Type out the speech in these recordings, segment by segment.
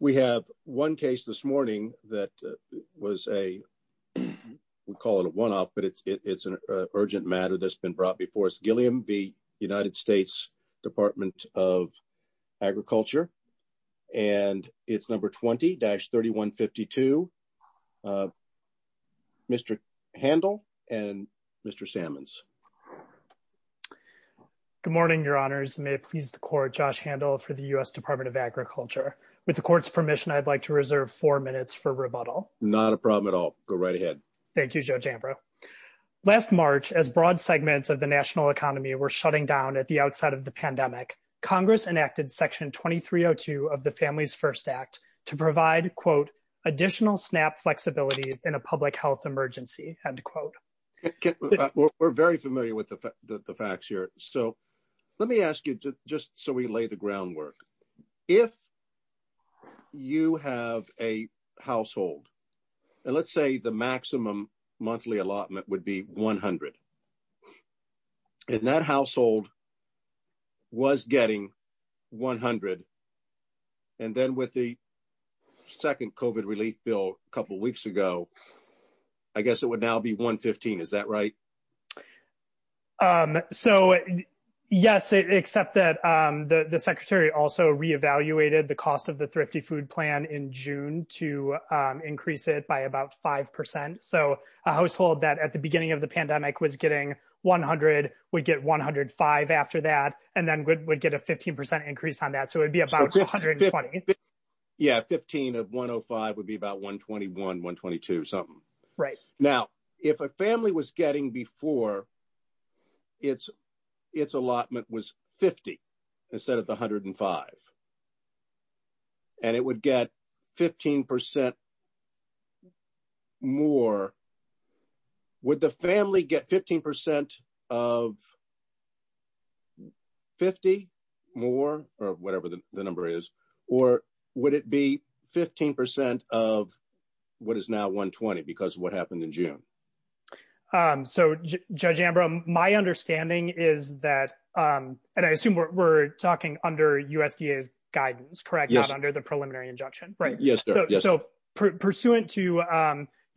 We have one case this morning that was a, we call it a one-off, but it's an urgent matter that's been brought before us. Gilliam v. United States Department of Agriculture, and it's number 20-3152, Mr. Handel and Mr. Sammons. Good morning, your honors. May it please the court, Josh Handel for the US Department of Agriculture. With the court's permission, I'd like to reserve four minutes for rebuttal. Not a problem at all. Go right ahead. Thank you, Judge Ambrose. Last March, as broad segments of the national economy were shutting down at the outside of the pandemic, Congress enacted Section 2302 of the Families First Act to provide, quote, additional SNAP flexibility in a public health emergency, end quote. We're very familiar with the facts here, so let me ask you, just so we lay the groundwork. If you have a household, and let's say the maximum monthly allotment would be 100, and that household was getting 100, and then with the second COVID relief bill a couple weeks ago, I guess it would now be 115, is that right? So, yes, except that the Secretary also re-evaluated the cost of the Thrifty Food Plan in June to increase it by about 5%. So, a household that at the beginning of the pandemic was getting 100 would get 105 after that, and then would get a 15% increase on that, so it would be about 120. Yeah, 15 of 105 would be about 121, 122, something. Right. Now, if a family was getting before its allotment was 50 instead of 105, and it would get 15% more, would the family get 15% of 50 more, or whatever the number is, or would it be 15% of what is now 120, because of what happened in June? So, Judge Ambrose, my understanding is that, and I assume we're talking under USDA's guidance, correct, not under the preliminary injunction, right? Yes, sir. So, pursuant to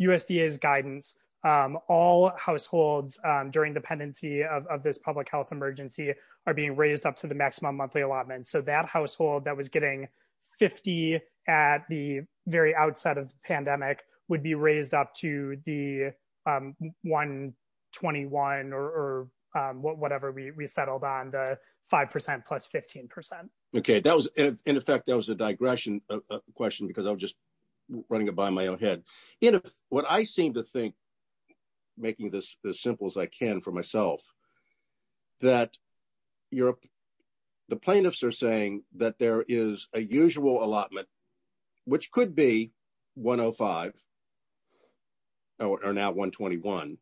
USDA's guidance, all households during dependency of this public health emergency are being raised up to the maximum monthly allotment, so that household that was getting 50 at the very outset of the pandemic would be raised up to the 121 or whatever we settled on, the 5% plus 15%. Okay, that was, in effect, that was a digression question, because I was just running it by my own head. What I seem to think, making this as simple as I can for myself, that the plaintiffs are saying that there is a usual allotment, which could be 105, or now 121,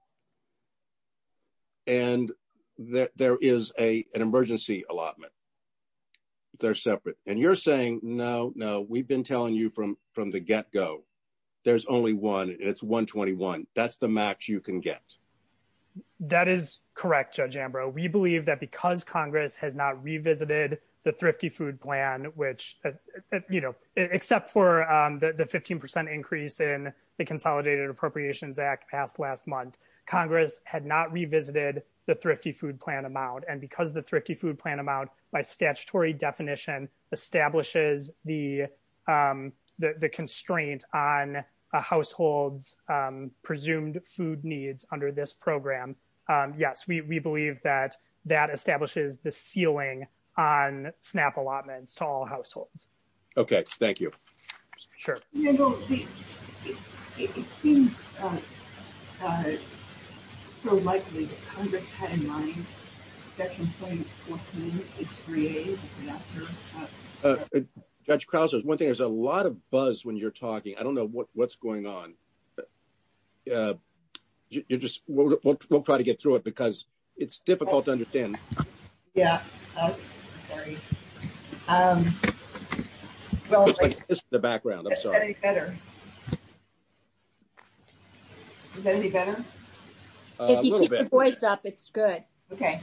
and that there is an emergency allotment. They're separate. And you're saying, no, no, we've been telling you from the get-go, there's only one, it's 121. That's the max you can get. That is correct, Judge Ambrose. We believe that because Congress has not revisited the Thrifty Food Plan, which, you know, except for the 15% increase in the Consolidated Appropriations Act passed last month, Congress had not revisited the Thrifty Food Plan amount. And because the Thrifty Food Plan amount, by statutory definition, establishes the constraint on a household's presumed food needs under this program. Yes, we believe that that establishes the ceiling on SNAP allotments to all households. Okay, thank you. Sure. You know, it seems so likely that Congress had in mind such a thing as 14638. Judge Krause, one thing, there's a lot of buzz when you're talking. I don't know what's going on. You just won't try to get through it because it's difficult to understand. Yeah. Sorry. This is the background, I'm sorry. Is that any better? Is that any better? A little bit. If you keep your voice up, it's good. Okay.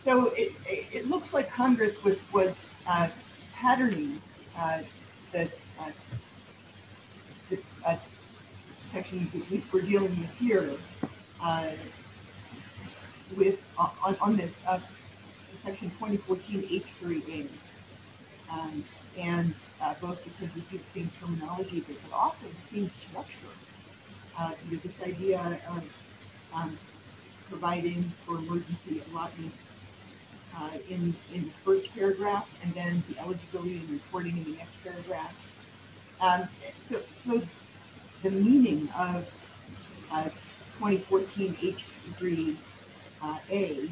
So, it looks like Congress was patterning the sections that we're dealing with here on the section 2014H3 data. And both of these are the same terminology, but they're also the same structure. There's this idea of providing for emergency allotments in the first paragraph, and then the eligibility and reporting in the next paragraph. So, the meaning of 2014H3A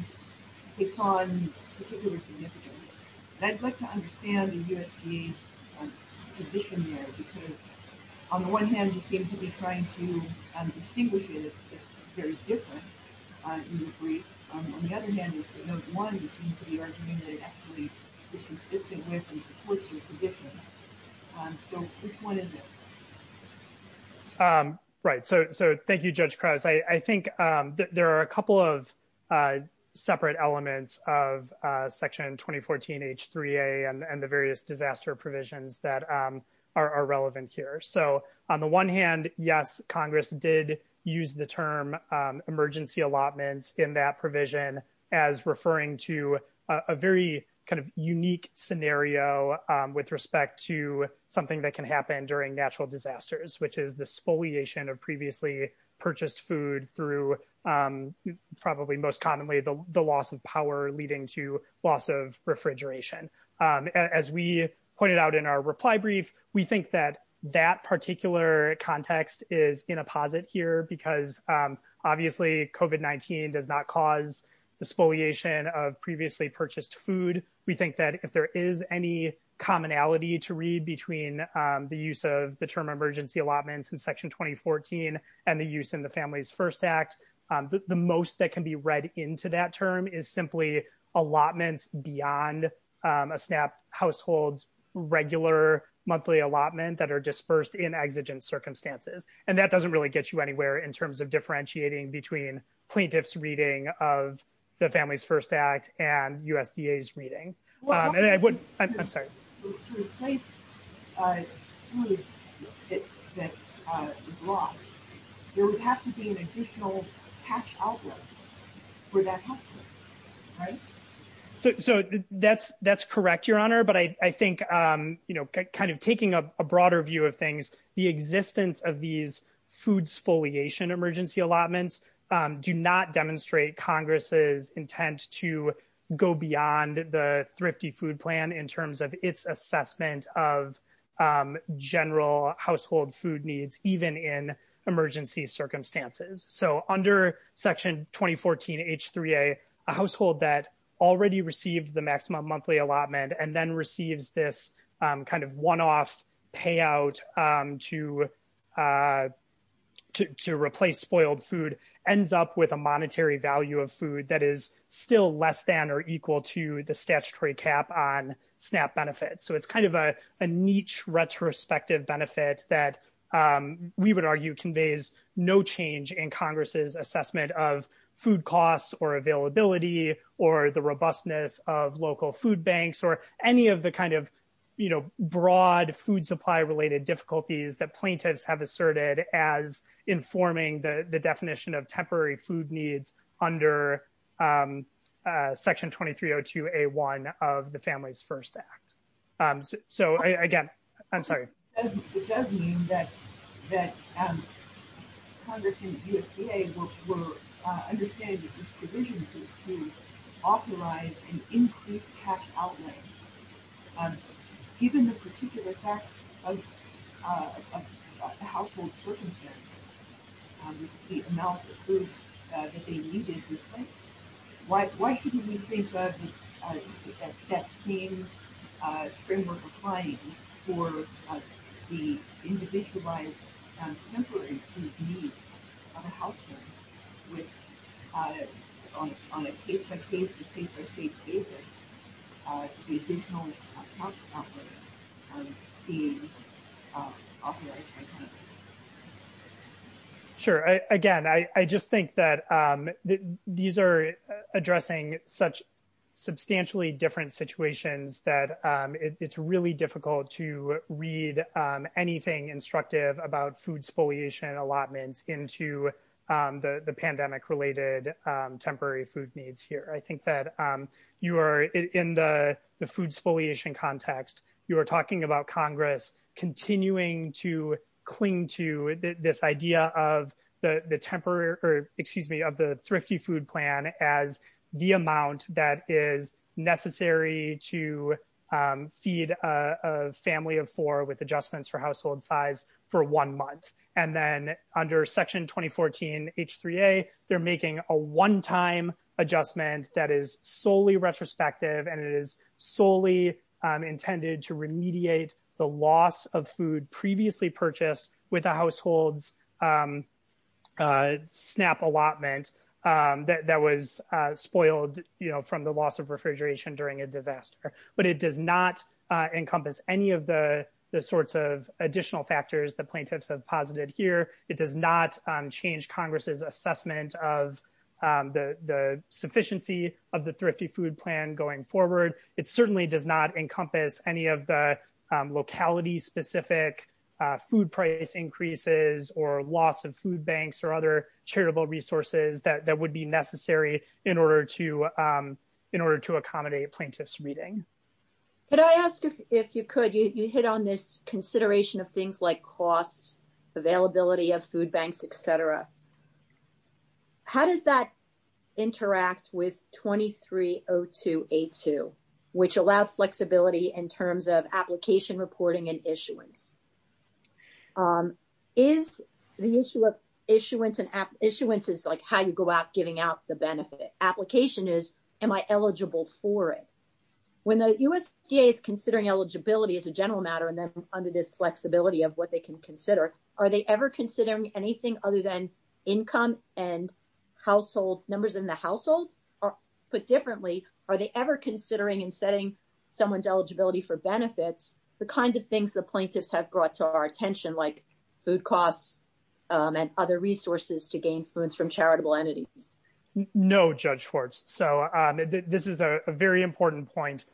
is on particular significance. And I'd like to understand the position there, because on the one hand, you seem to be trying to distinguish it as very different. On the other hand, you seem to be arguing that it actually is consistent with and supports your position. So, which one is it? Right. So, thank you, Judge Krause. I think there are a couple of separate elements of Section 2014H3A and the various disaster provisions that are relevant here. So, on the one hand, yes, Congress did use the term emergency allotments in that provision as referring to a very kind of unique scenario with respect to something that can happen during natural disasters, which is the spoliation of previously purchased food through probably most commonly the loss of power leading to loss of refrigeration. As we pointed out in our reply brief, we think that that particular context is in a posit here, because obviously COVID-19 does not cause the spoliation of previously purchased food. We think that if there is any commonality to read between the use of the term emergency allotments in Section 2014 and the use in the Families First Act, the most that can be read into that term is simply allotments beyond a SNAP household's regular monthly allotment that are dispersed in exigent circumstances. And that doesn't really get you anywhere in terms of differentiating between plaintiff's reading of the Families First Act and USDA's reading. I'm sorry. To replace food that is lost, there would have to be an additional cash outlet for that household, right? So that's correct, Your Honor. But I think kind of taking a broader view of things, the existence of these food spoliation emergency allotments do not demonstrate Congress's intent to go beyond the Thrifty Food Plan in terms of its assessment of general household food needs, even in emergency circumstances. So under Section 2014 H3A, a household that already received the maximum monthly allotment and then receives this kind of one-off payout to replace spoiled food ends up with a monetary value of food that is still less than or equal to the statutory cap on SNAP benefits. So it's kind of a niche retrospective benefit that we would argue conveys no change in Congress's assessment of food costs or availability or the robustness of local food banks or any of the kind of broad food supply-related difficulties that plaintiffs have asserted as informing the definition of temporary food needs under Section 2302A1 of the Families First Act. So, again, I'm sorry. It does mean that Congress and USDA were understanding that these provisions were to authorize an increased cash outlay. Given the particular fact of the household's circumstances, the amount of food that they needed, why shouldn't we think of that same framework applying for the individualized temporary food needs of a household? On a case-by-case, receipt-by-receipt basis, we didn't know much about what was being authorized. We didn't know much about the pandemic-related temporary food needs here. I think that you are in the food spoliation context. You are talking about Congress continuing to cling to this idea of the thrifty food plan as the amount that is necessary to feed a family of four with adjustments for household size for one month. And then under Section 2014H3A, they're making a one-time adjustment that is solely retrospective and it is solely intended to remediate the loss of food previously purchased with a household's SNAP allotment that was spoiled from the loss of refrigeration during a disaster. But it does not encompass any of the sorts of additional factors that plaintiffs have posited here. It does not change Congress's assessment of the sufficiency of the thrifty food plan going forward. It certainly does not encompass any of the locality-specific food price increases or loss of food banks or other charitable resources that would be necessary in order to accommodate a plaintiff's meeting. Could I ask, if you could, you hit on this consideration of things like cost, availability of food banks, et cetera. How does that interact with 2302A2, which allows flexibility in terms of application reporting and issuance? Is the issue of issuance, and issuance is like how you go about giving out the benefit. Application is am I eligible for it? When the USDA is considering eligibility as a general matter and then under this flexibility of what they can consider, are they ever considering anything other than income and household numbers in the household? Put differently, are they ever considering and setting someone's eligibility for benefits, the kinds of things the plaintiffs have brought to our attention like food costs and other resources to gain food from charitable entities? No, Judge Schwartz. So this is a very important point.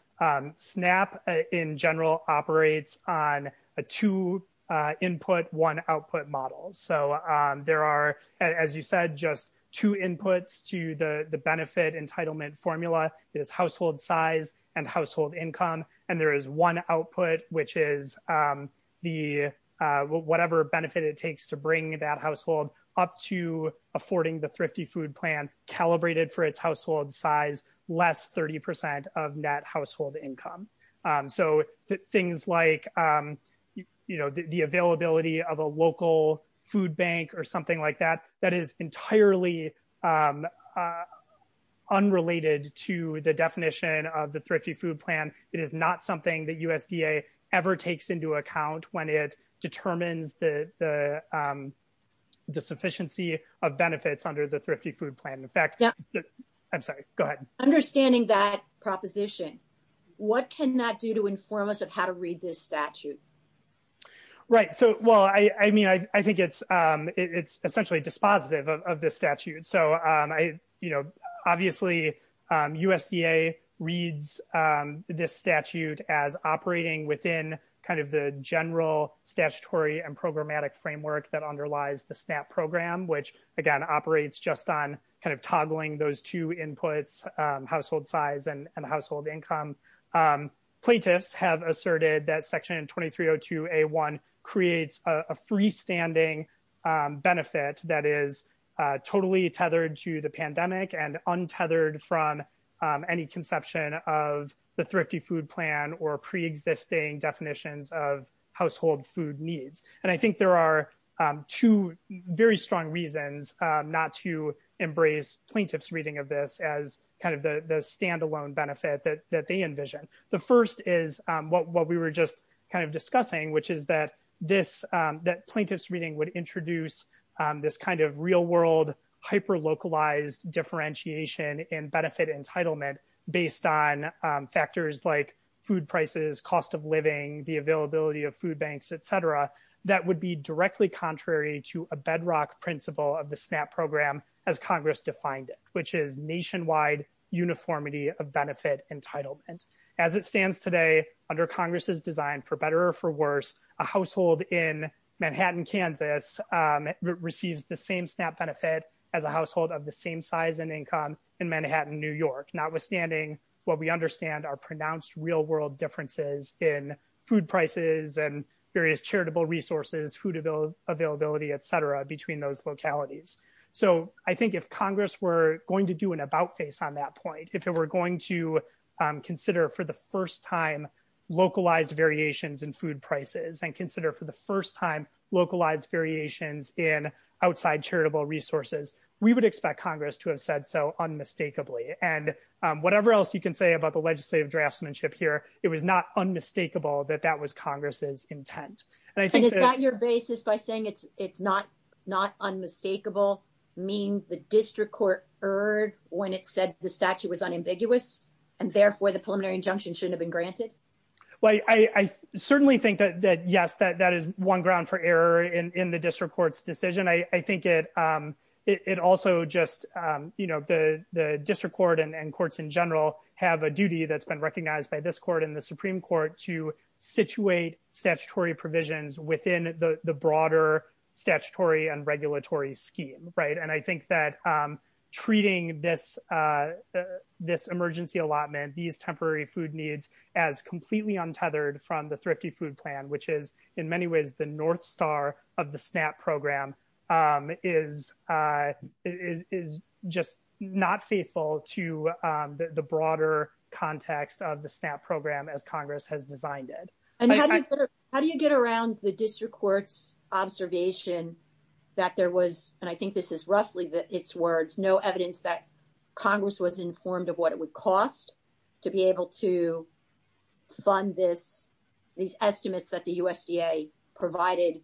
SNAP, in general, operates on a two-input, one-output model. There are, as you said, just two inputs to the benefit entitlement formula. There's household size and household income. And there is one output, which is whatever benefit it takes to bring that household up to affording the Thrifty Food Plan calibrated for its household size, less 30% of net household income. So things like, you know, the availability of a local food bank or something like that, that is entirely unrelated to the definition of the Thrifty Food Plan. It is not something that USDA ever takes into account when it determines the sufficiency of benefits under the Thrifty Food Plan. I'm sorry, go ahead. Understanding that proposition, what can that do to inform us of how to read this statute? Right. So, well, I mean, I think it's essentially dispositive of this statute. So, you know, obviously USDA reads this statute as operating within kind of the general statutory and programmatic framework that underlies the SNAP program, which, again, operates just on kind of toggling those two inputs, household size and household income. Plaintiffs have asserted that Section 2302A1 creates a freestanding benefit that is totally tethered to the pandemic and untethered from any conception of the Thrifty Food Plan or pre-existing definitions of household food needs. And I think there are two very strong reasons not to embrace plaintiff's reading of this as kind of the standalone benefit that they envision. The first is what we were just kind of discussing, which is that plaintiff's reading would introduce this kind of real-world hyper-localized differentiation in benefit entitlement based on factors like food prices, cost of living, the availability of food banks, etc. That would be directly contrary to a bedrock principle of the SNAP program as Congress defined it, which is nationwide uniformity of benefit entitlement. As it stands today, under Congress's design for better or for worse, a household in Manhattan, Kansas, receives the same SNAP benefit as a household of the same size and income in Manhattan, New York, notwithstanding what we understand are pronounced real-world differences in food prices and various charitable resources, food availability, etc., between those localities. So I think if Congress were going to do an about-face on that point, if it were going to consider for the first time localized variations in food prices and consider for the first time localized variations in outside charitable resources, we would expect Congress to have said so unmistakably. And whatever else you can say about the legislative draftsmanship here, it was not unmistakable that that was Congress's intent. And is that your basis by saying it's not unmistakable means the district court erred when it said the statute was unambiguous and therefore the preliminary injunction shouldn't have been granted? Well, I certainly think that, yes, that is one ground for error in the district court's decision. I think it also just, you know, the district court and courts in general have a duty that's been recognized by this court and the Supreme Court to situate statutory provisions within the broader statutory and regulatory scheme. Right. And I think that treating this emergency allotment, these temporary food needs, as completely untethered from the Thrifty Food Plan, which is in many ways the North Star of the SNAP program, is just not faithful to the broader context of the SNAP program as Congress has designed it. How do you get around the district court's observation that there was, and I think this is roughly its words, no evidence that Congress was informed of what it would cost to be able to fund these estimates that the USDA provided,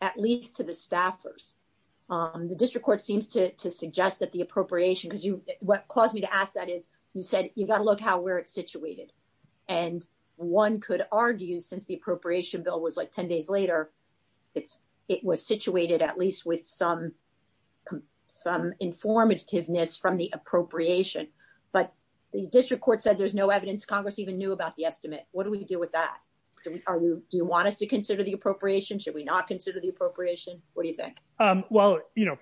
at least to the staffers? The district court seems to suggest that the appropriation, because what caused me to ask that is, you said, you've got to look how we're situated. And one could argue, since the appropriation bill was like 10 days later, it was situated at least with some informativeness from the appropriation. But the district court said there's no evidence Congress even knew about the estimate. What do we do with that? Do you want us to consider the appropriation? Should we not consider the appropriation? What do you think?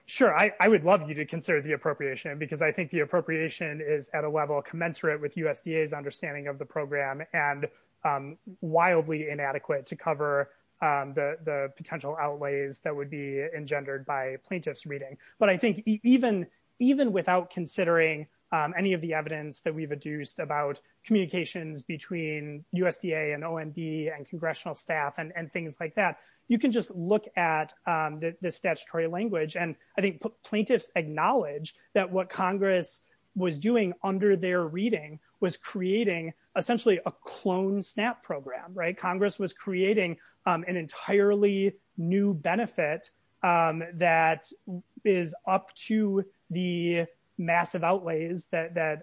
Sure, I would love you to consider the appropriation, because I think the appropriation is at a level commensurate with USDA's understanding of the program and wildly inadequate to cover the potential outlays that would be engendered by plaintiff's reading. But I think even without considering any of the evidence that we've adduced about communications between USDA and OMB and congressional staff and things like that, you can just look at the statutory language. And I think plaintiffs acknowledge that what Congress was doing under their reading was creating essentially a clone SNAP program, right? Congress was creating an entirely new benefit that is up to the massive outlays that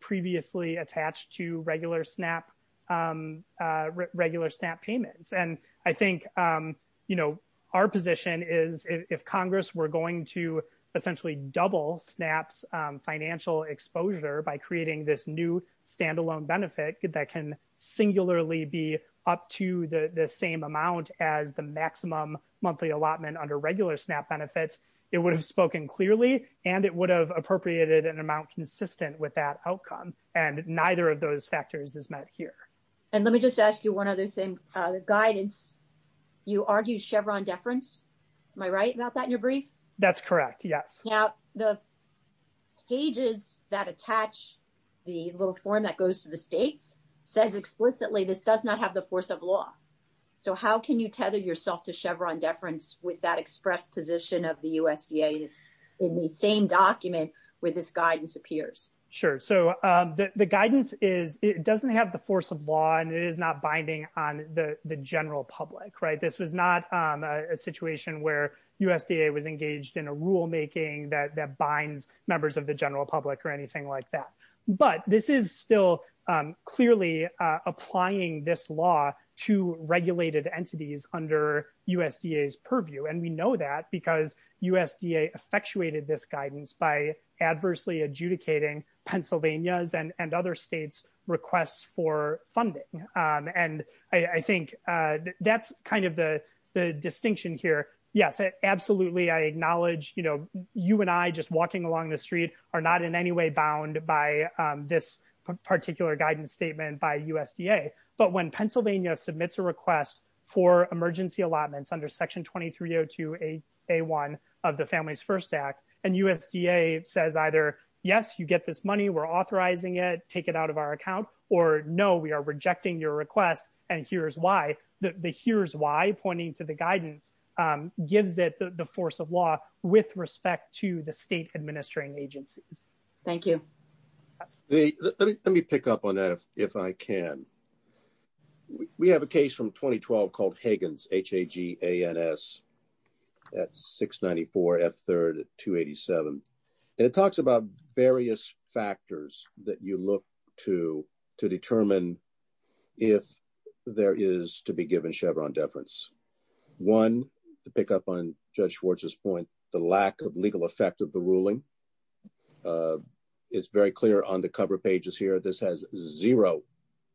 previously attached to regular SNAP payments. And I think our position is if Congress were going to essentially double SNAP's financial exposure by creating this new standalone benefit that can singularly be up to the same amount as the maximum monthly allotment under regular SNAP benefits, it would have spoken clearly and it would have appropriated an amount consistent with that outcome. And neither of those factors is met here. And let me just ask you one other thing. The guidance, you argue Chevron deference. Am I right about that in your brief? That's correct. Yes. Now, the pages that attach the little form that goes to the state says explicitly this does not have the force of law. So how can you tether yourself to Chevron deference with that express position of the USDA in the same document where this guidance appears? Sure. So the guidance is it doesn't have the force of law and it is not binding on the general public, right? This was not a situation where USDA was engaged in a rulemaking that binds members of the general public or anything like that. But this is still clearly applying this law to regulated entities under USDA's purview. And we know that because USDA effectuated this guidance by adversely adjudicating Pennsylvania's and other states requests for funding. And I think that's kind of the distinction here. Yes, absolutely. I acknowledge, you know, you and I just walking along the street are not in any way bound by this particular guidance statement by USDA. But when Pennsylvania submits a request for emergency allotments under Section 2302A1 of the Families First Act and USDA says either, yes, you get this money, we're authorizing it, take it out of our account or no, we are rejecting your request and here's why. The here's why pointing to the guidance gives it the force of law with respect to the state administering agency. Thank you. Let me pick up on that, if I can. We have a case from 2012 called Hagans, H-A-G-A-N-S at 694 F3rd 287. It talks about various factors that you look to to determine if there is to be given Chevron deference. One, to pick up on Judge Schwartz's point, the lack of legal effect of the ruling. It's very clear on the cover pages here. This has zero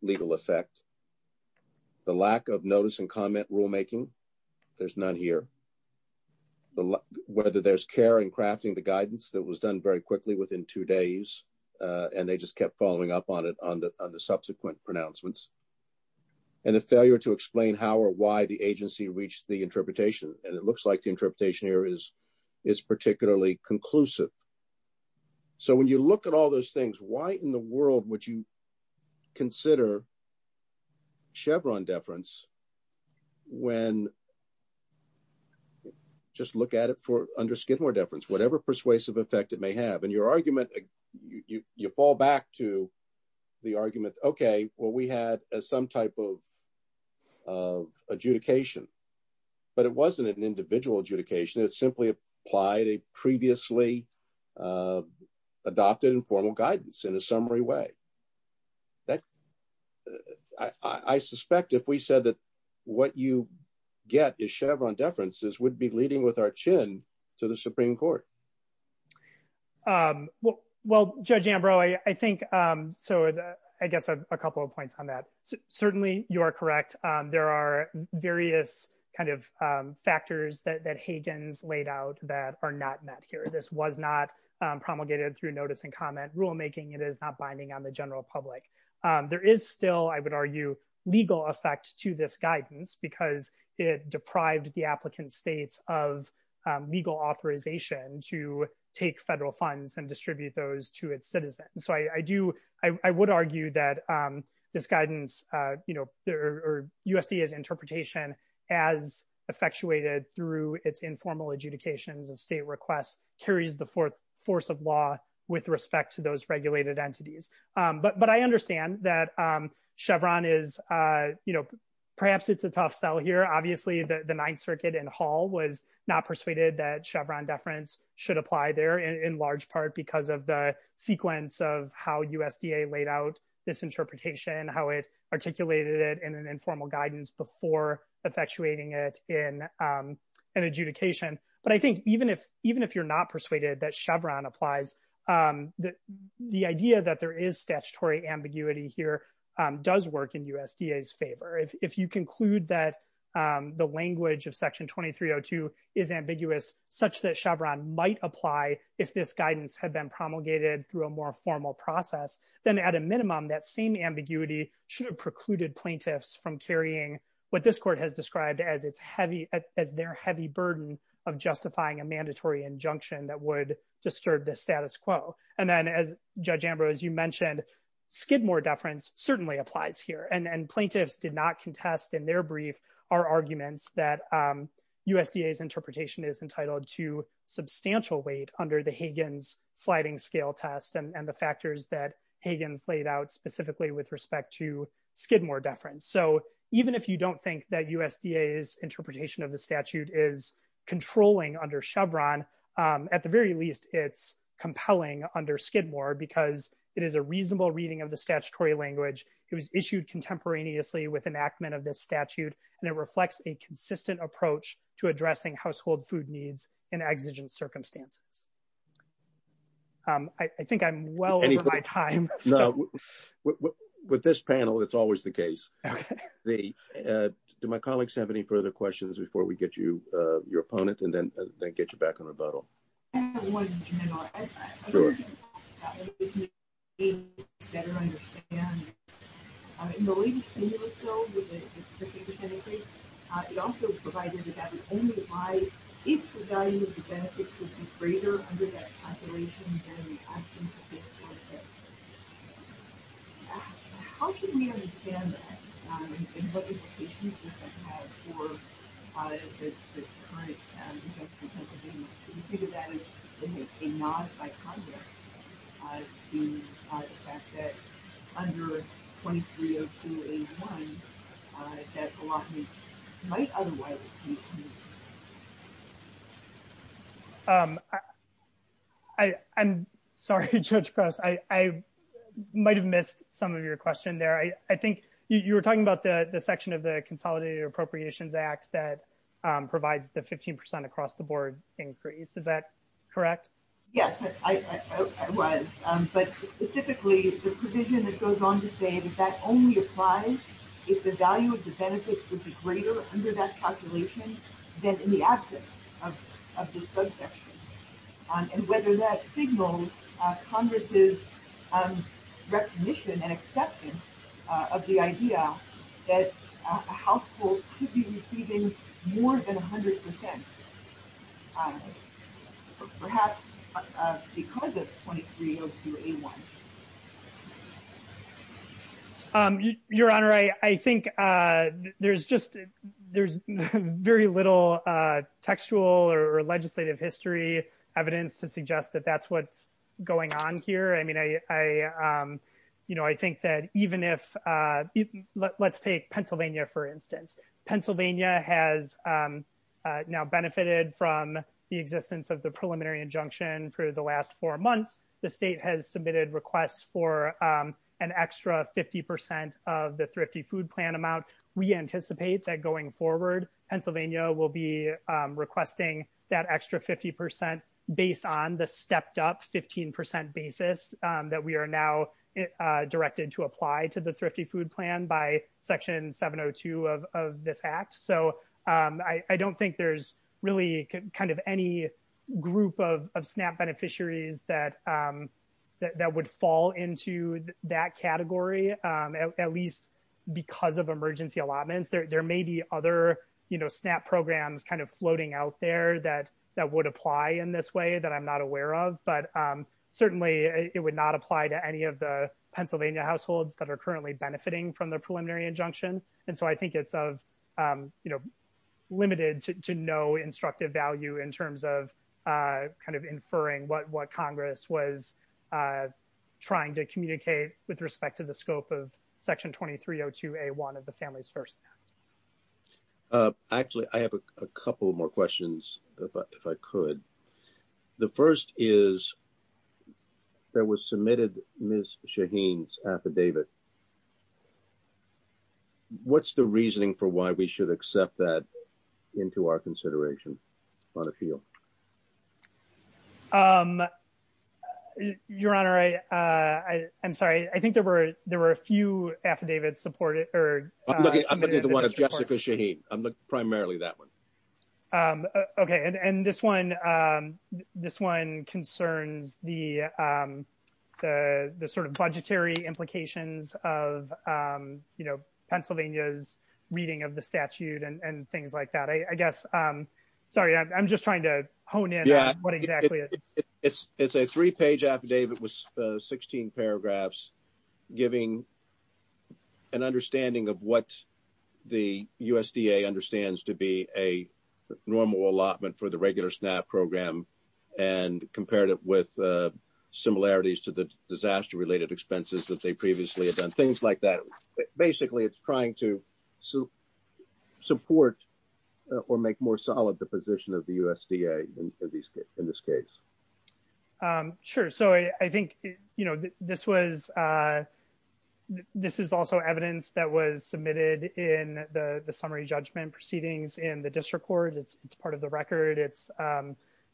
legal effect. The lack of notice and comment rulemaking. There's none here. Whether there's care in crafting the guidance that was done very quickly within two days and they just kept following up on it on the subsequent pronouncements. And the failure to explain how or why the agency reached the interpretation. And it looks like the interpretation here is particularly conclusive. So when you look at all those things, why in the world would you consider Chevron deference when, just look at it for under Skidmore deference, whatever persuasive effect it may have. And your argument, you fall back to the argument, okay, well we had some type of adjudication, but it wasn't an individual adjudication. It simply applied a previously adopted and formal guidance in a summary way. I suspect if we said that what you get is Chevron deference, this would be leading with our chin to the Supreme Court. Well, Judge Ambrose, I think, so I guess a couple of points on that. Certainly, you are correct. There are various kind of factors that Hagan's laid out that are not met here. This was not promulgated through notice and comment rulemaking. It is not binding on the general public. There is still, I would argue, legal effect to this guidance because it deprived the applicant states of legal authorization to take federal funds and distribute those to its citizens. So I do, I would argue that this guidance, you know, or USDA's interpretation as effectuated through its informal adjudication, the state request, carries the force of law with respect to those regulated entities. But I understand that Chevron is, you know, perhaps it's a tough sell here. Obviously, the Ninth Circuit in Hall was not persuaded that Chevron deference should apply there in large part because of the sequence of how USDA laid out this interpretation, how it articulated it in an informal guidance before effectuating it in an adjudication. But I think even if you're not persuaded that Chevron applies, the idea that there is statutory ambiguity here does work in USDA's favor. If you conclude that the language of Section 2302 is ambiguous, such that Chevron might apply if this guidance had been promulgated through a more formal process, then at a minimum, that same ambiguity should have precluded plaintiffs from carrying what this court has described as its heavy, as their heavy burden of justifying a mandatory injunction that would disturb the status quo. And then, as Judge Ambrose, you mentioned, Skidmore deference certainly applies here. And plaintiffs did not contest in their brief our arguments that USDA's interpretation is entitled to substantial weight under the Hagan's sliding scale test and the factors that Hagan laid out specifically with respect to Skidmore deference. So even if you don't think that USDA's interpretation of the statute is controlling under Chevron, at the very least, it's compelling under Skidmore because it is a reasonable reading of the statutory language. It was issued contemporaneously with enactment of this statute, and it reflects a consistent approach to addressing household food needs in exigent circumstances. I think I'm well over my time. With this panel, it's always the case. Do my colleagues have any further questions before we get you your opponent and then get you back on the boat? It also provided that that would only apply if the value of the benefits would be greater under that calculation than the absence of this process. How can we understand that? And what implications does that have for the current defense contention? I'm sorry, Judge Gross, I might have missed some of your question there. I think you were talking about the section of the Consolidated Appropriations Act that provides the 15% across the board. Is that correct? Yes, it was. But specifically, the provision that goes on to say that that only applies if the value of the benefits would be greater under that calculation than in the absence of this subsection. And whether that signals Congress's recognition and acceptance of the idea that households should be receiving more than 100%, perhaps because of 2302A1. Your Honor, I think there's very little textual or legislative history evidence to suggest that that's what's going on here. I think that even if, let's take Pennsylvania, for instance. Pennsylvania has now benefited from the existence of the preliminary injunction for the last four months. The state has submitted requests for an extra 50% of the Thrifty Food Plan amount. We anticipate that going forward, Pennsylvania will be requesting that extra 50% based on the stepped up 15% basis that we are now directed to apply to the Thrifty Food Plan by Section 702 of this Act. I don't think there's really any group of SNAP beneficiaries that would fall into that category, at least because of emergency allotments. There may be other SNAP programs floating out there that would apply in this way that I'm not aware of. But certainly, it would not apply to any of the Pennsylvania households that are currently benefiting from the preliminary injunction. And so I think it's limited to no instructive value in terms of kind of inferring what Congress was trying to communicate with respect to the scope of Section 2302A1 of the Families First Act. Actually, I have a couple more questions, if I could. The first is, there was submitted Ms. Shaheen's affidavit. What's the reasoning for why we should accept that into our consideration on a field? Your Honor, I'm sorry. I think there were a few affidavits supported. I'm looking at the one of Jessica Shaheen. I'm looking primarily at that one. Okay. And this one concerns the sort of budgetary implications of, you know, Pennsylvania's reading of the statute and things like that. I guess, sorry, I'm just trying to hone in on what exactly it is. It's a three-page affidavit with 16 paragraphs, giving an understanding of what the USDA understands to be a normal allotment for the regular SNAP program, and compared it with similarities to the disaster-related expenses that they previously have done, things like that. Basically, it's trying to support or make more solid the position of the USDA in this case. Sure. So, I think, you know, this is also evidence that was submitted in the summary judgment proceedings in the district court. It's part of the record. It's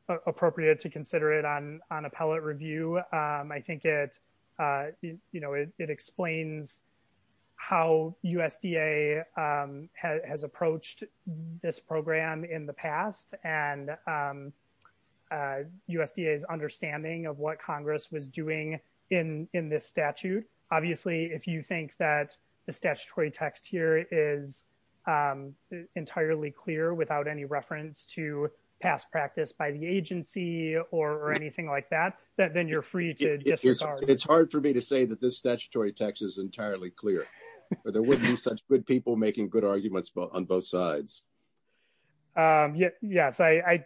appropriate to consider it on appellate review. I think it, you know, it explains how USDA has approached this program in the past, and USDA's understanding of what Congress was doing in this statute. Obviously, if you think that the statutory text here is entirely clear without any reference to past practice by the agency or anything like that, then you're free to disagree. It's hard for me to say that this statutory text is entirely clear. There wouldn't be such good people making good arguments on both sides. Yes, I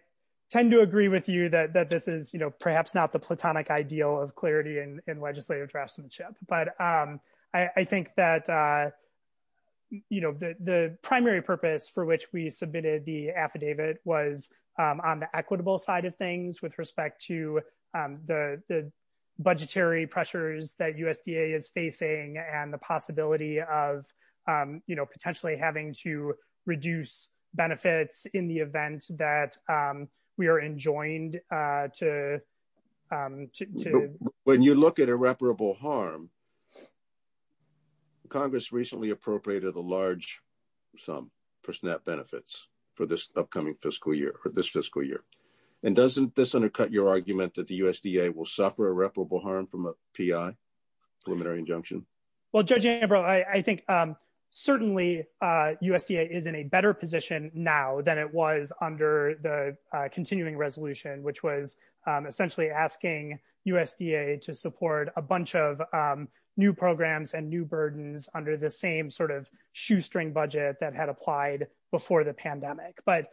tend to agree with you that this is, you know, perhaps not the platonic ideal of clarity in legislative draftsmanship, but I think that, you know, the primary purpose for which we submitted the affidavit was on the equitable side of things with respect to the budgetary pressures that USDA is facing and the possibility of, you know, potentially having to reduce benefits in the event that we are enjoined to... Well, Judge Ambrose, I think certainly USDA is in a better position now than it was under the continuing resolution, which was essentially asking USDA to support a bunch of new programs and new burdens under the same sort of shoestring budget that had applied before the pandemic. But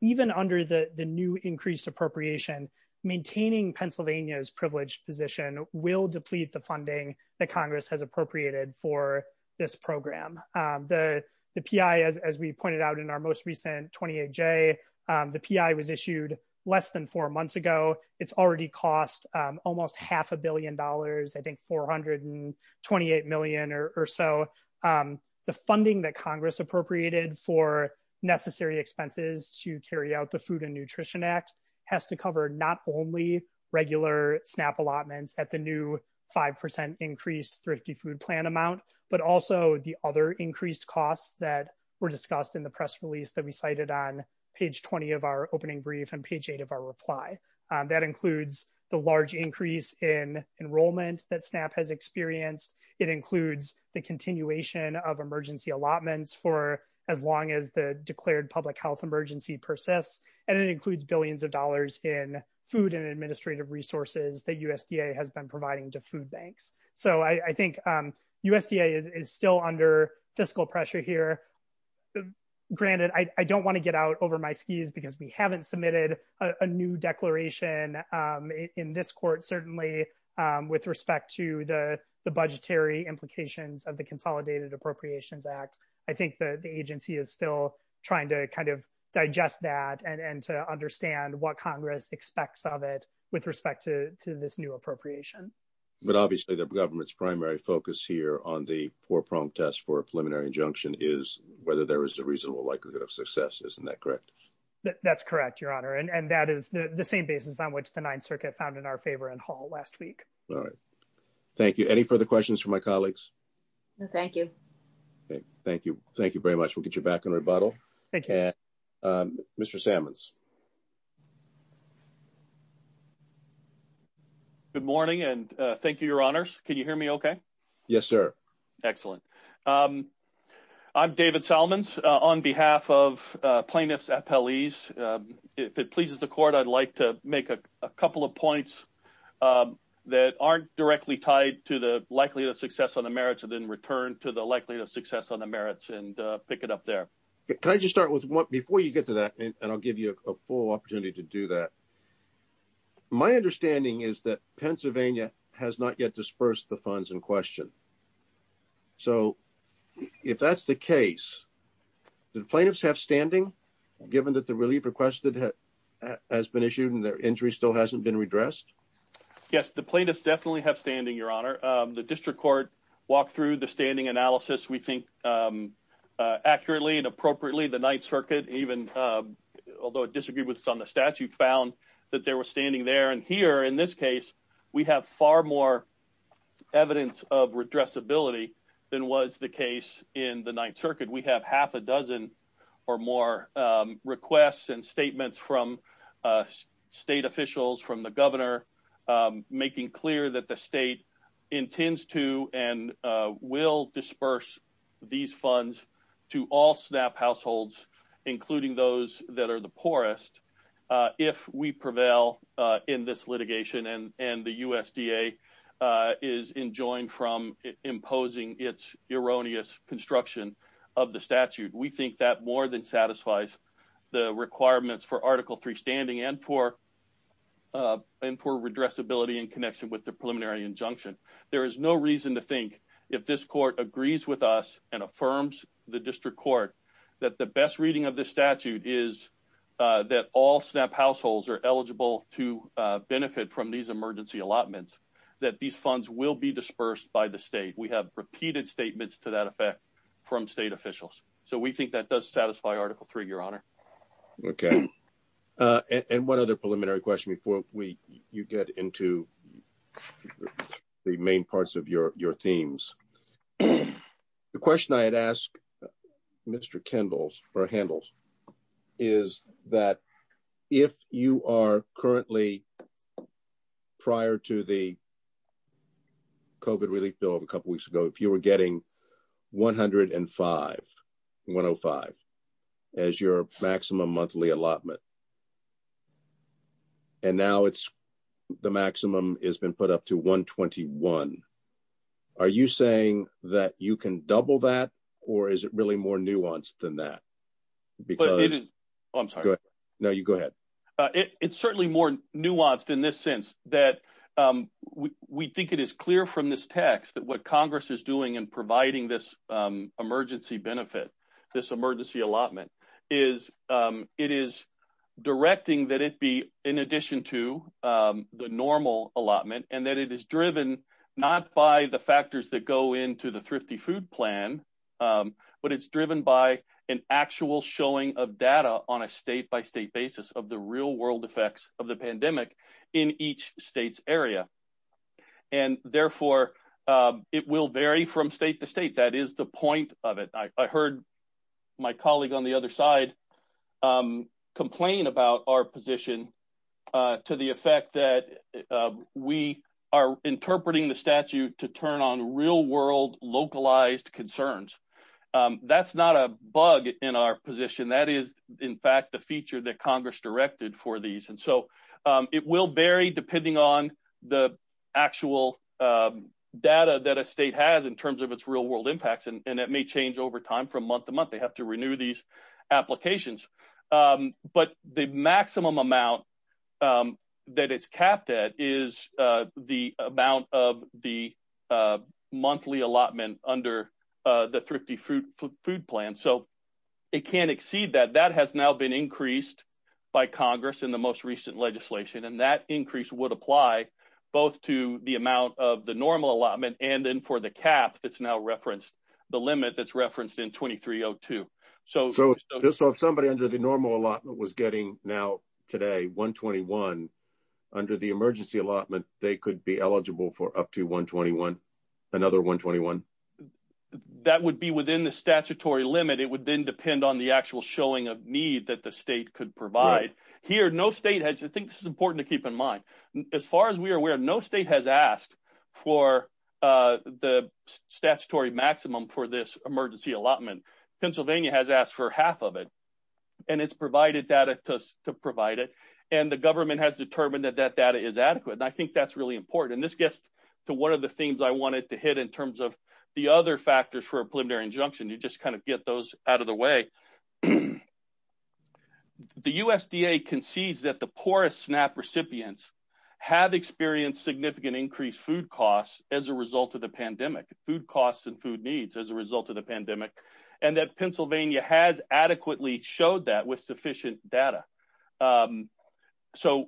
even under the new increased appropriation, maintaining Pennsylvania's privileged position will deplete the funding that Congress has appropriated for this program. The PI, as we pointed out in our most recent 28J, the PI was issued less than four months ago. It's already cost almost half a billion dollars, I think $428 million or so. The funding that Congress appropriated for necessary expenses to carry out the Food and Nutrition Act has to cover not only regular SNAP allotments at the new 5% increased thrifty food plan amount, but also the other increased costs that were discussed in the press release that we cited on page 20 of our opening brief and page 8 of our reply. That includes the large increase in enrollment that SNAP has experienced. It includes the continuation of emergency allotments for as long as the declared public health emergency persists, and it includes billions of dollars in food and administrative resources that USDA has been providing to food banks. So I think USDA is still under fiscal pressure here. Granted, I don't want to get out over my skis because we haven't submitted a new declaration in this court, certainly, with respect to the budgetary implications of the Consolidated Appropriations Act. I think the agency is still trying to kind of digest that and to understand what Congress expects of it with respect to this new appropriation. But obviously the government's primary focus here on the four-prong test for a preliminary injunction is whether there is a reasonable likelihood of success. Isn't that correct? That's correct, Your Honor, and that is the same basis on which the Ninth Circuit found in our favor in Hall last week. All right. Thank you. Any further questions from my colleagues? No, thank you. Thank you. Thank you very much. We'll get you back in rebuttal. Thank you. Mr. Sammons. Good morning, and thank you, Your Honors. Can you hear me okay? Yes, sir. Excellent. I'm David Sammons on behalf of plaintiffs' appellees. If it pleases the Court, I'd like to make a couple of points that aren't directly tied to the likelihood of success on the merits and then return to the likelihood of success on the merits and pick it up there. Before you get to that, and I'll give you a full opportunity to do that, my understanding is that Pennsylvania has not yet dispersed the funds in question. So if that's the case, do plaintiffs have standing given that the relief requested has been issued and their injury still hasn't been redressed? Yes, the plaintiffs definitely have standing, Your Honor. The District Court walked through the standing analysis, we think, accurately and appropriately. The Ninth Circuit even, although it disagreed with us on the statute, found that they were standing there. And here, in this case, we have far more evidence of redressability than was the case in the Ninth Circuit. We have half a dozen or more requests and statements from state officials, from the governor, making clear that the state intends to and will disperse these funds to all SNAP households, including those that are the poorest, if we prevail in this litigation and the USDA is enjoined from imposing its erroneous construction of the statute. We think that more than satisfies the requirements for Article III standing and for redressability in connection with the preliminary injunction. There is no reason to think, if this court agrees with us and affirms the District Court that the best reading of the statute is that all SNAP households are eligible to benefit from these emergency allotments, that these funds will be dispersed by the state. We have repeated statements to that effect from state officials. So we think that does satisfy Article III, Your Honor. Okay. And one other preliminary question before you get into the main parts of your themes. The question I had asked Mr. Kendall's, or Handel's, is that if you are currently, prior to the COVID relief bill a couple weeks ago, if you were getting $105, $105 as your maximum monthly allotment, and now the maximum has been put up to $121, are you saying that you can double that, or is it really more nuanced than that? I'm sorry. No, you go ahead. It's certainly more nuanced in this sense that we think it is clear from this text that what Congress is doing in providing this emergency benefit, this emergency allotment, it is directing that it be in addition to the normal allotment, and that it is driven not by the factors that go into the Thrifty Food Plan, but it's driven by an actual showing of data on a state-by-state basis of the real-world effects of the pandemic in each state's area. And therefore, it will vary from state to state. That is the point of it. I heard my colleague on the other side complain about our position to the effect that we are interpreting the statute to turn on real-world localized concerns. That's not a bug in our position. That is, in fact, the feature that Congress directed for these. It will vary depending on the actual data that a state has in terms of its real-world impacts, and that may change over time from month to month. They have to renew these applications. But the maximum amount that it's capped at is the amount of the monthly allotment under the Thrifty Food Plan, so it can't exceed that. But that has now been increased by Congress in the most recent legislation, and that increase would apply both to the amount of the normal allotment and then for the cap that's now referenced, the limit that's referenced in 2302. So if somebody under the normal allotment was getting now, today, 121, under the emergency allotment, they could be eligible for up to 121, another 121? That would be within the statutory limit. It would then depend on the actual showing of need that the state could provide. Here, no state has – I think this is important to keep in mind. As far as we are aware, no state has asked for the statutory maximum for this emergency allotment. Pennsylvania has asked for half of it, and it's provided data to provide it, and the government has determined that that data is adequate, and I think that's really important. And this gets to one of the things I wanted to hit in terms of the other factors for a preliminary injunction. You just kind of get those out of the way. The USDA concedes that the poorest SNAP recipients have experienced significant increased food costs as a result of the pandemic, food costs and food needs as a result of the pandemic, and that Pennsylvania has adequately showed that with sufficient data. So,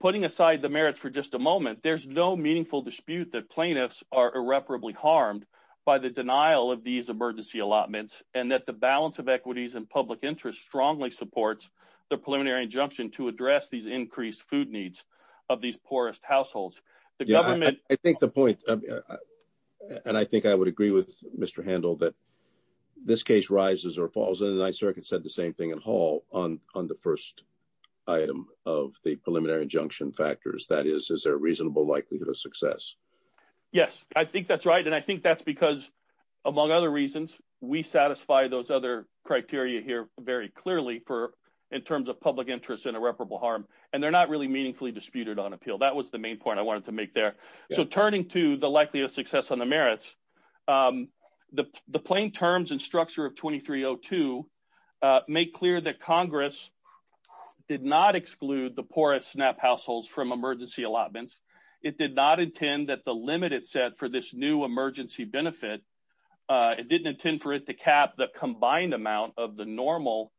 putting aside the merits for just a moment, there's no meaningful dispute that plaintiffs are irreparably harmed by the denial of these emergency allotments and that the balance of equities and public interest strongly supports the preliminary injunction to address these increased food needs of these poorest households. I think the point, and I think I would agree with Mr. Handel, that this case rises or falls, and the Ninth Circuit said the same thing in Hall on the first item of the preliminary injunction factors, that is, is there a reasonable likelihood of success? Yes, I think that's right, and I think that's because, among other reasons, we satisfy those other criteria here very clearly in terms of public interest and irreparable harm, and they're not really meaningfully disputed on appeal. That was the main point I wanted to make there. So, turning to the likelihood of success on the merits, the plain terms and structure of 2302 make clear that Congress did not exclude the poorest SNAP households from emergency allotments. It did not intend that the limit is set for this new emergency benefit. It didn't intend for it to cap the combined amount of the normal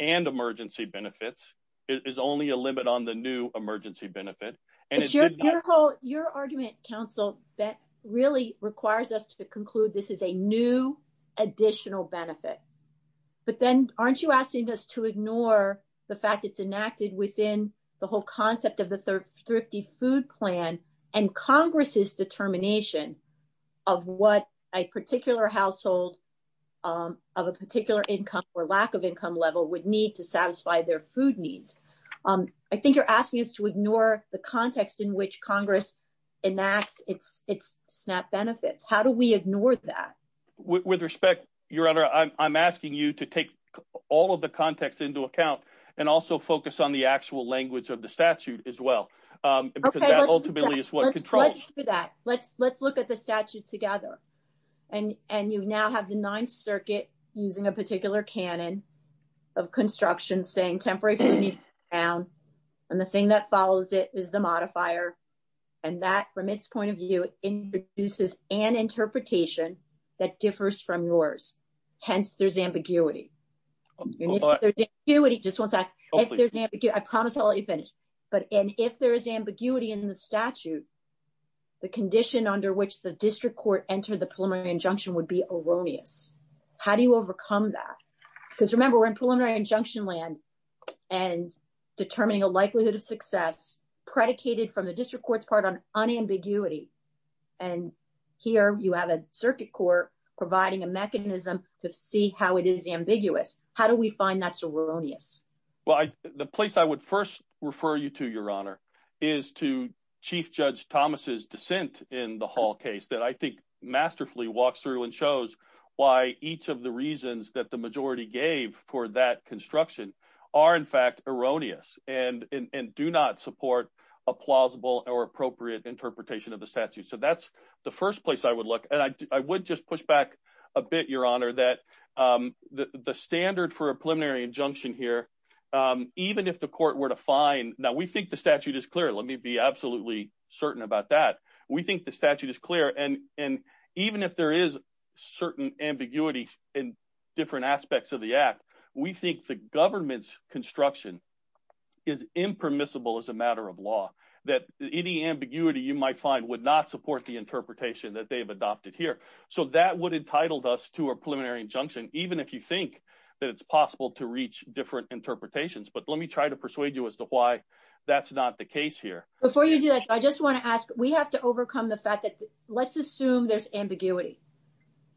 and emergency benefits. It is only a limit on the new emergency benefit. Your argument, counsel, really requires us to conclude this is a new additional benefit, but then aren't you asking us to ignore the fact it's enacted within the whole concept of the Thrifty Food Plan and Congress's determination of what a particular household of a particular income or lack of income level would need to satisfy their food needs? I think you're asking us to ignore the context in which Congress enacts its SNAP benefits. How do we ignore that? With respect, Your Honor, I'm asking you to take all of the context into account and also focus on the actual language of the statute as well. Okay, let's do that. Let's look at the statute together. And you now have the Ninth Circuit using a particular canon of construction saying temporary food needs to be cut down. And the thing that follows it is the modifier. And that, from its point of view, introduces an interpretation that differs from yours. Hence, there's ambiguity. I promise I'll let you finish. And if there's ambiguity in the statute, the condition under which the district court entered the preliminary injunction would be erroneous. How do you overcome that? Because remember, we're in preliminary injunction land and determining a likelihood of success predicated from the district court's part on unambiguity. And here you have a circuit court providing a mechanism to see how it is ambiguous. How do we find that's erroneous? Well, the place I would first refer you to, Your Honor, is to Chief Judge Thomas's dissent in the Hall case that I think masterfully walks through and shows why each of the reasons that the majority gave for that construction are, in fact, erroneous and do not support a plausible or appropriate interpretation of the statute. So that's the first place I would look. And I would just push back a bit, Your Honor, that the standard for a preliminary injunction here, even if the court were to find—now, we think the statute is clear. Let me be absolutely certain about that. We think the statute is clear. And even if there is certain ambiguity in different aspects of the act, we think the government's construction is impermissible as a matter of law, that any ambiguity you might find would not support the interpretation that they've adopted here. So that would entitle us to a preliminary injunction, even if you think that it's possible to reach different interpretations. But let me try to persuade you as to why that's not the case here. Before you do that, I just want to ask, we have to overcome the fact that—let's assume there's ambiguity.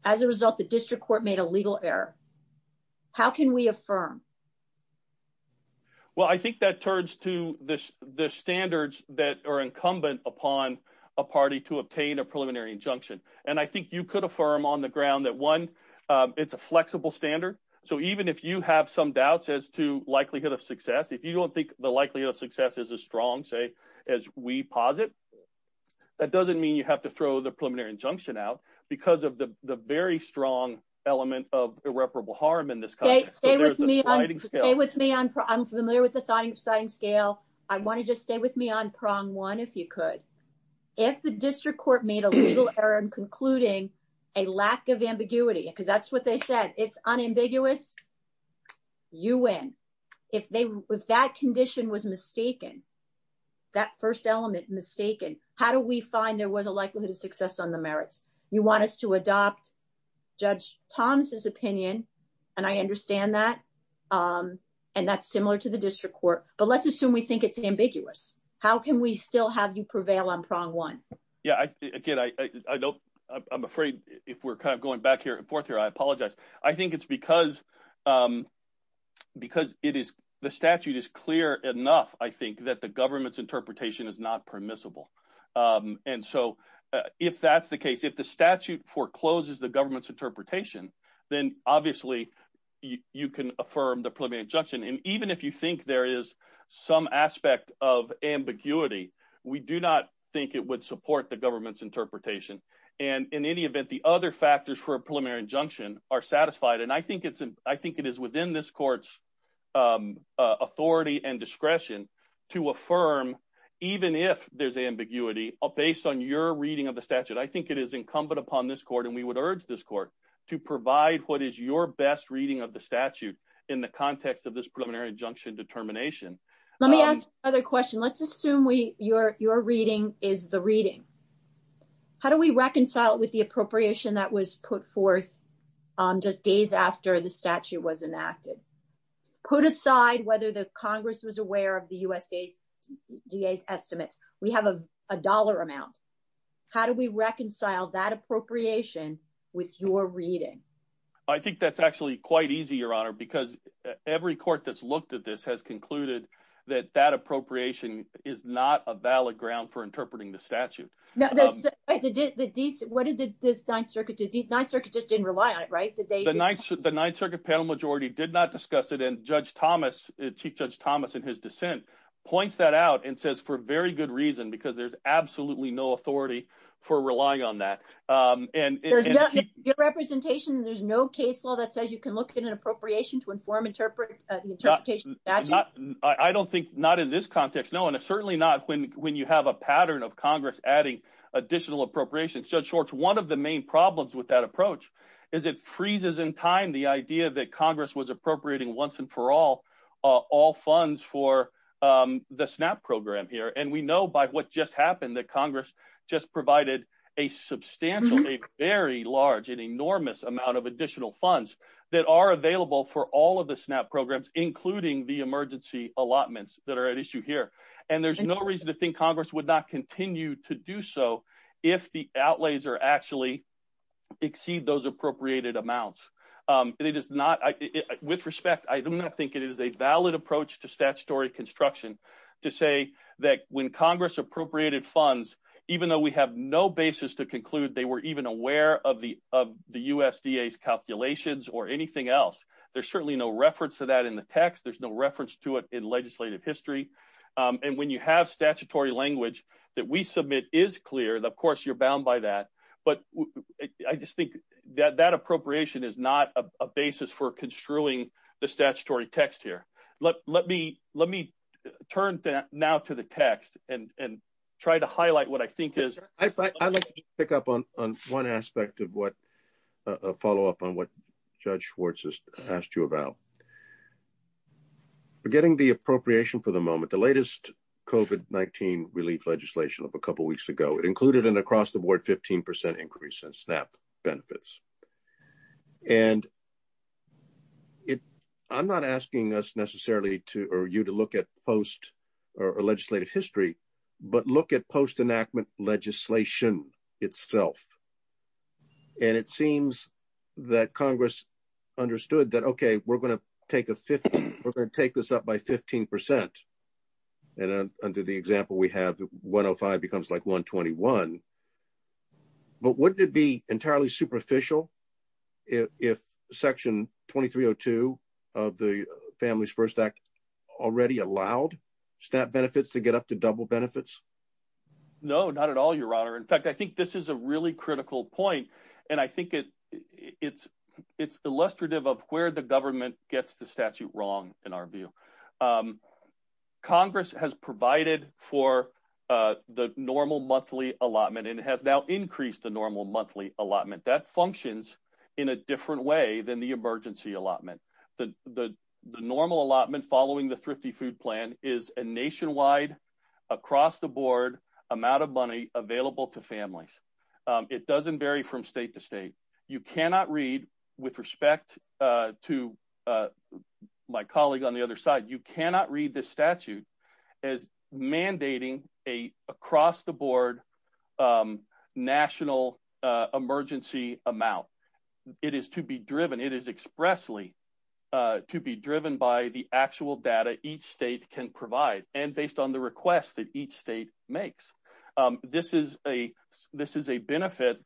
As a result, the district court made a legal error. How can we affirm? Well, I think that turns to the standards that are incumbent upon a party to obtain a preliminary injunction. And I think you could affirm on the ground that, one, it's a flexible standard. So even if you have some doubts as to likelihood of success, if you don't think the likelihood of success is as strong, say, as we posit, that doesn't mean you have to throw the preliminary injunction out. Stay with me. I'm familiar with the sliding scale. I want to just stay with me on prong one, if you could. If the district court made a legal error in concluding a lack of ambiguity, because that's what they said, it's unambiguous, you win. If that condition was mistaken, that first element, mistaken, how do we find there was a likelihood of success on the merits? I want us to adopt Judge Tom's opinion, and I understand that. And that's similar to the district court. But let's assume we think it's ambiguous. How can we still have you prevail on prong one? Again, I'm afraid if we're kind of going back here and forth here, I apologize. I think it's because the statute is clear enough, I think, that the government's interpretation is not permissible. And so if that's the case, if the statute forecloses the government's interpretation, then obviously you can affirm the preliminary injunction. And even if you think there is some aspect of ambiguity, we do not think it would support the government's interpretation. And in any event, the other factors for a preliminary injunction are satisfied. And I think it is within this court's authority and discretion to affirm, even if there's ambiguity, based on your reading of the statute. I think it is incumbent upon this court, and we would urge this court, to provide what is your best reading of the statute in the context of this preliminary injunction determination. Let me ask another question. Let's assume your reading is the reading. How do we reconcile it with the appropriation that was put forth just days after the statute was enacted? Put aside whether the Congress was aware of the USDA's estimate. We have a dollar amount. How do we reconcile that appropriation with your reading? I think that's actually quite easy, Your Honor, because every court that's looked at this has concluded that that appropriation is not a valid ground for interpreting the statute. What did the Ninth Circuit do? The Ninth Circuit just didn't rely on it, right? The Ninth Circuit panel majority did not discuss it, and Chief Judge Thomas, in his dissent, points that out and says, for very good reason, because there's absolutely no authority for relying on that. There's no case law that says you can look at an appropriation to inform interpretation of the statute? I don't think, not in this context, no, and certainly not when you have a pattern of Congress adding additional appropriations. Judge Schwartz, one of the main problems with that approach is it freezes in time the idea that Congress was appropriating, once and for all, all funds for the SNAP program here. We know by what just happened that Congress just provided a substantial, a very large and enormous amount of additional funds that are available for all of the SNAP programs, including the emergency allotments that are at issue here. There's no reason to think Congress would not continue to do so if the outlays are actually exceed those appropriated amounts. With respect, I do not think it is a valid approach to statutory construction to say that when Congress appropriated funds, even though we have no basis to conclude they were even aware of the USDA's calculations or anything else, there's certainly no reference to that in the text, there's no reference to it in legislative history. When you have statutory language that we submit is clear, of course you're bound by that, but I just think that that appropriation is not a basis for construing the statutory text here. Let me turn now to the text and try to highlight what I think is... The latest COVID-19 relief legislation of a couple weeks ago included an across-the-board 15% increase in SNAP benefits. I'm not asking you to look at legislative history, but look at post-enactment legislation itself. It seems that Congress understood that, okay, we're going to take this up by 15%. Under the example we have, 105 becomes like 121. But wouldn't it be entirely superficial if Section 2302 of the Families First Act already allowed SNAP benefits to get up to double benefits? No, not at all, Your Honor. In fact, I think this is a really critical point, and I think it's illustrative of where the government gets the statute wrong, in our view. Congress has provided for the normal monthly allotment and has now increased the normal monthly allotment. That functions in a different way than the emergency allotment. The normal allotment following the Thrifty Food Plan is a nationwide, across-the-board amount of money available to families. It doesn't vary from state to state. You cannot read, with respect to my colleague on the other side, you cannot read this statute as mandating an across-the-board national emergency amount. It is to be driven, it is expressly to be driven by the actual data each state can provide and based on the request that each state makes. This is a benefit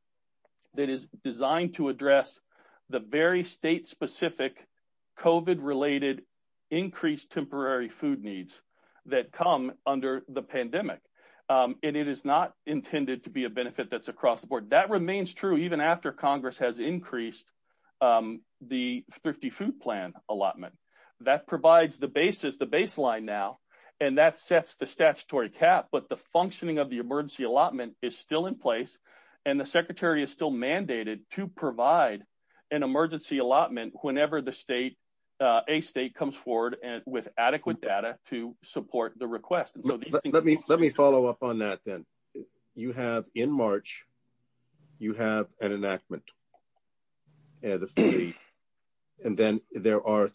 that is designed to address the very state-specific COVID-related increased temporary food needs that come under the pandemic. And it is not intended to be a benefit that's across-the-board. That remains true even after Congress has increased the Thrifty Food Plan allotment. That provides the basis, the baseline now, and that sets the statutory cap, but the functioning of the emergency allotment is still in place, and the Secretary is still mandated to provide an emergency allotment whenever a state comes forward with adequate data to support the request. Let me follow up on that then. You have, in March, you have an enactment, and then there are,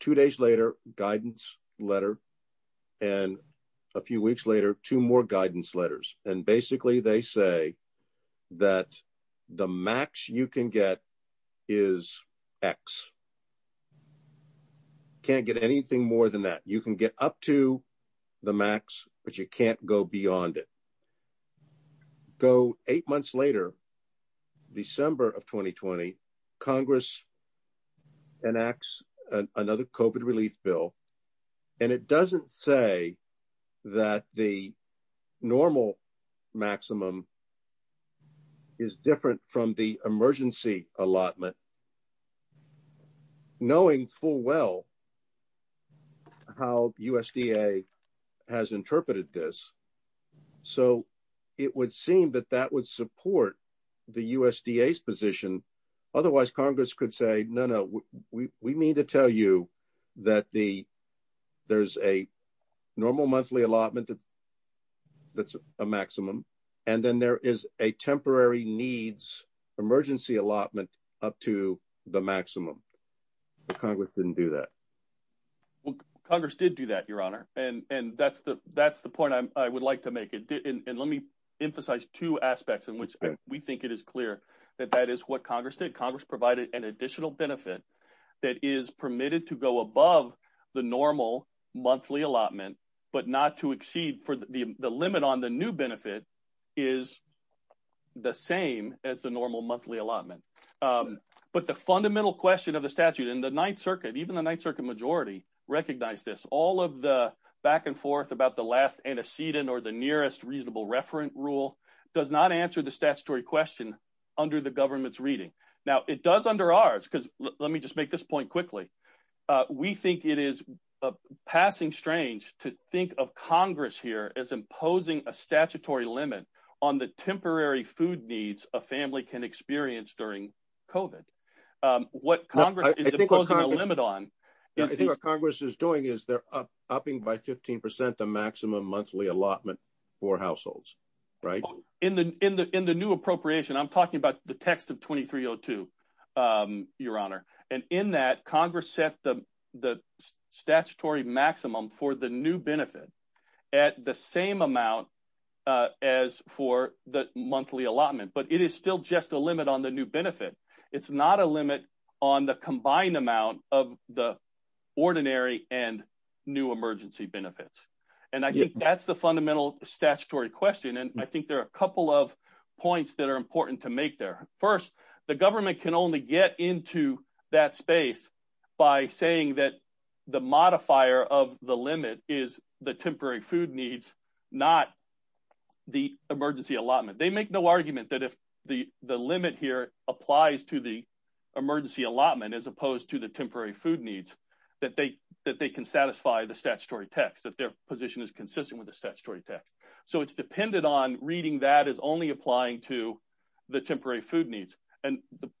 two days later, guidance letter, and a few weeks later, two more guidance letters. And basically they say that the max you can get is X. You can't get anything more than that. You can get up to the max, but you can't go beyond it. Eight months later, December of 2020, Congress enacts another COVID relief bill, and it doesn't say that the normal maximum is different from the emergency allotment, knowing full well how USDA has interpreted this. So, it would seem that that would support the USDA's position. Otherwise, Congress could say, no, no, we mean to tell you that there's a normal monthly allotment that's a maximum, and then there is a temporary needs emergency allotment up to the maximum. Congress didn't do that. Congress did do that, Your Honor, and that's the point I would like to make. And let me emphasize two aspects in which we think it is clear that that is what Congress did. Congress provided an additional benefit that is permitted to go above the normal monthly allotment, but not to exceed for the limit on the new benefit is the same as the normal monthly allotment. But the fundamental question of the statute in the Ninth Circuit, even the Ninth Circuit majority, recognized this. All of the back and forth about the last antecedent or the nearest reasonable referent rule does not answer the statutory question under the government's reading. Now, it does under ours, because let me just make this point quickly. We think it is passing strange to think of Congress here as imposing a statutory limit on the temporary food needs a family can experience during COVID. What Congress is imposing a limit on. I think what Congress is doing is they're upping by 15% the maximum monthly allotment for households, right? In the new appropriation, I'm talking about the text of 2302, Your Honor. And in that Congress set the statutory maximum for the new benefit at the same amount as for the monthly allotment, but it is still just a limit on the new benefit. It's not a limit on the combined amount of the ordinary and new emergency benefits. And I think that's the fundamental statutory question. And I think there are a couple of points that are important to make there. First, the government can only get into that space by saying that the modifier of the limit is the temporary food needs, not the emergency allotment. They make no argument that if the limit here applies to the emergency allotment, as opposed to the temporary food needs, that they can satisfy the statutory text, that their position is consistent with the statutory text. So it's dependent on reading that as only applying to the temporary food needs. And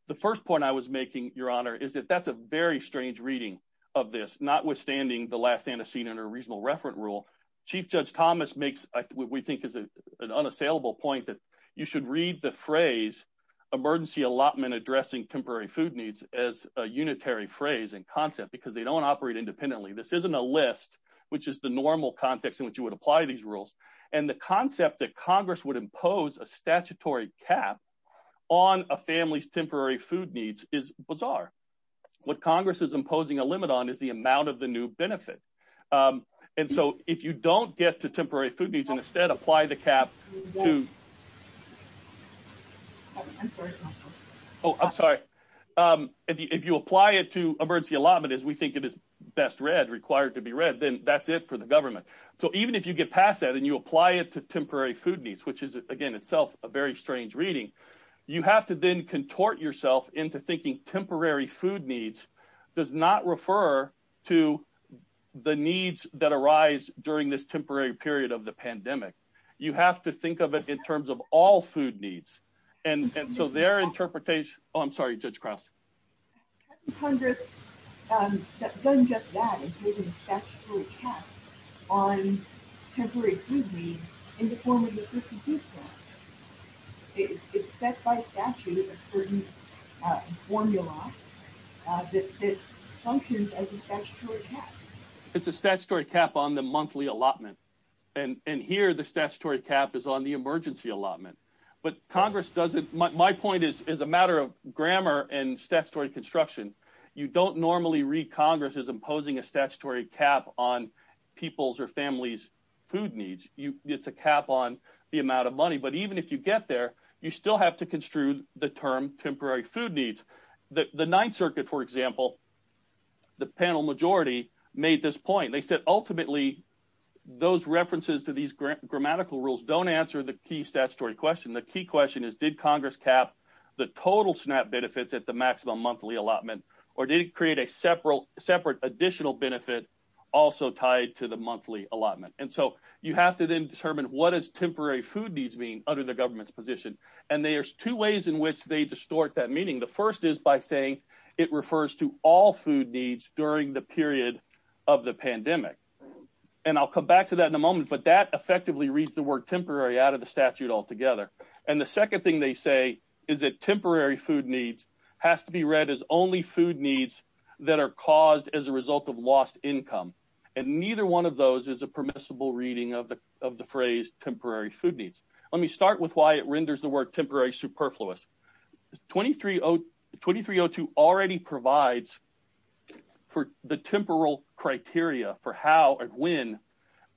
the first point I was making, Your Honor, is that that's a very strange reading of this, notwithstanding the last antecedent or reasonable referent rule. Chief Judge Thomas makes what we think is an unassailable point that you should read the phrase emergency allotment addressing temporary food needs as a unitary phrase and concept because they don't operate independently. This isn't a list, which is the normal context in which you would apply these rules. And the concept that Congress would impose a statutory cap on a family's temporary food needs is bizarre. What Congress is imposing a limit on is the amount of the new benefit. And so if you don't get to temporary food needs and instead apply the cap to... Oh, I'm sorry. If you apply it to emergency allotment as we think it is best read, required to be read, then that's it for the government. So even if you get past that and you apply it to temporary food needs, which is, again, itself a very strange reading, you have to then contort yourself into thinking temporary food needs does not refer to the needs that arise during this temporary period of the pandemic. You have to think of it in terms of all food needs. And so their interpretation... Oh, I'm sorry, Judge Cross. Congress doesn't just that. It's making a statutory cap on temporary food needs in the form of the 52 clause. It's set by statute a certain formula that functions as a statutory cap. It's a statutory cap on the monthly allotment. And here the statutory cap is on the emergency allotment. My point is, as a matter of grammar and statutory construction, you don't normally read Congress as imposing a statutory cap on people's or families' food needs. It's a cap on the amount of money. But even if you get there, you still have to construe the term temporary food needs. The Ninth Circuit, for example, the panel majority, made this point. They said ultimately those references to these grammatical rules don't answer the key statutory question. The key question is, did Congress cap the total SNAP benefits at the maximum monthly allotment or did it create a separate additional benefit also tied to the monthly allotment? And so you have to then determine what does temporary food needs mean under the government's position? And there's two ways in which they distort that meaning. The first is by saying it refers to all food needs during the period of the pandemic. And I'll come back to that in a moment, but that effectively reads the word temporary out of the statute altogether. And the second thing they say is that temporary food needs has to be read as only food needs that are caused as a result of lost income. And neither one of those is a permissible reading of the phrase temporary food needs. Let me start with why it renders the word temporary superfluous. 2302 already provides for the temporal criteria for how or when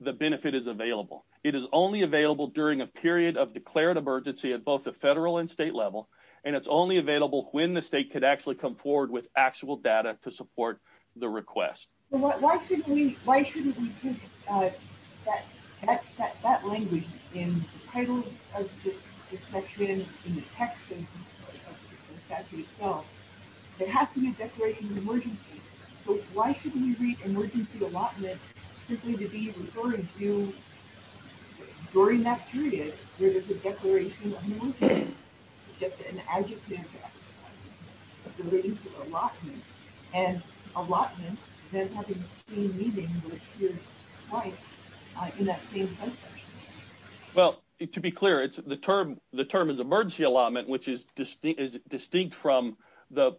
the benefit is available. It is only available during a period of declared emergency at both the federal and state level, and it's only available when the state could actually come forward with actual data to support the request. So why shouldn't we put that language in the title of the section, in the text of the statute itself? It has to be a declaration of emergency. So why shouldn't we read emergency allotment simply to be referring to during that period where there's a declaration of emergency? It's an adjective related to allotment. And allotment doesn't have the same meaning in that same context. Well, to be clear, the term is emergency allotment, which is distinct from the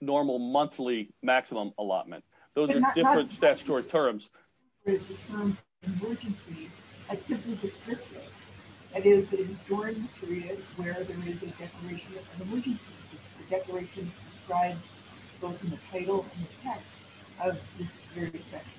normal monthly maximum allotment. Those are different statutory terms. The term emergency is simply descriptive. It is during the period where there is a declaration of emergency. The declaration is described both in the title and the text of the security section.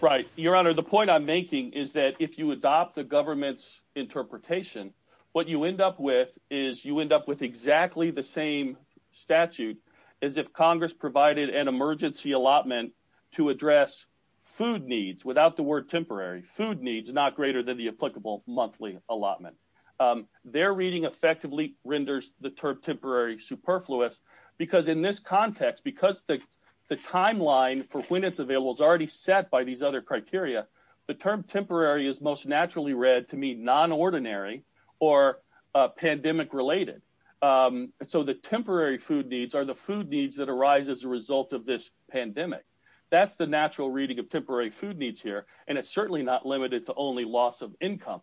Right. Your Honor, the point I'm making is that if you adopt the government's interpretation, what you end up with is you end up with exactly the same statute as if Congress provided an emergency allotment to address food needs, without the word temporary, food needs not greater than the applicable monthly allotment. Their reading effectively renders the term temporary superfluous because in this context, because the timeline for when it's available is already set by these other criteria, the term temporary is most naturally read to mean nonordinary or pandemic related. So the temporary food needs are the food needs that arise as a result of this pandemic. That's the natural reading of temporary food needs here. And it's certainly not limited to only loss of income.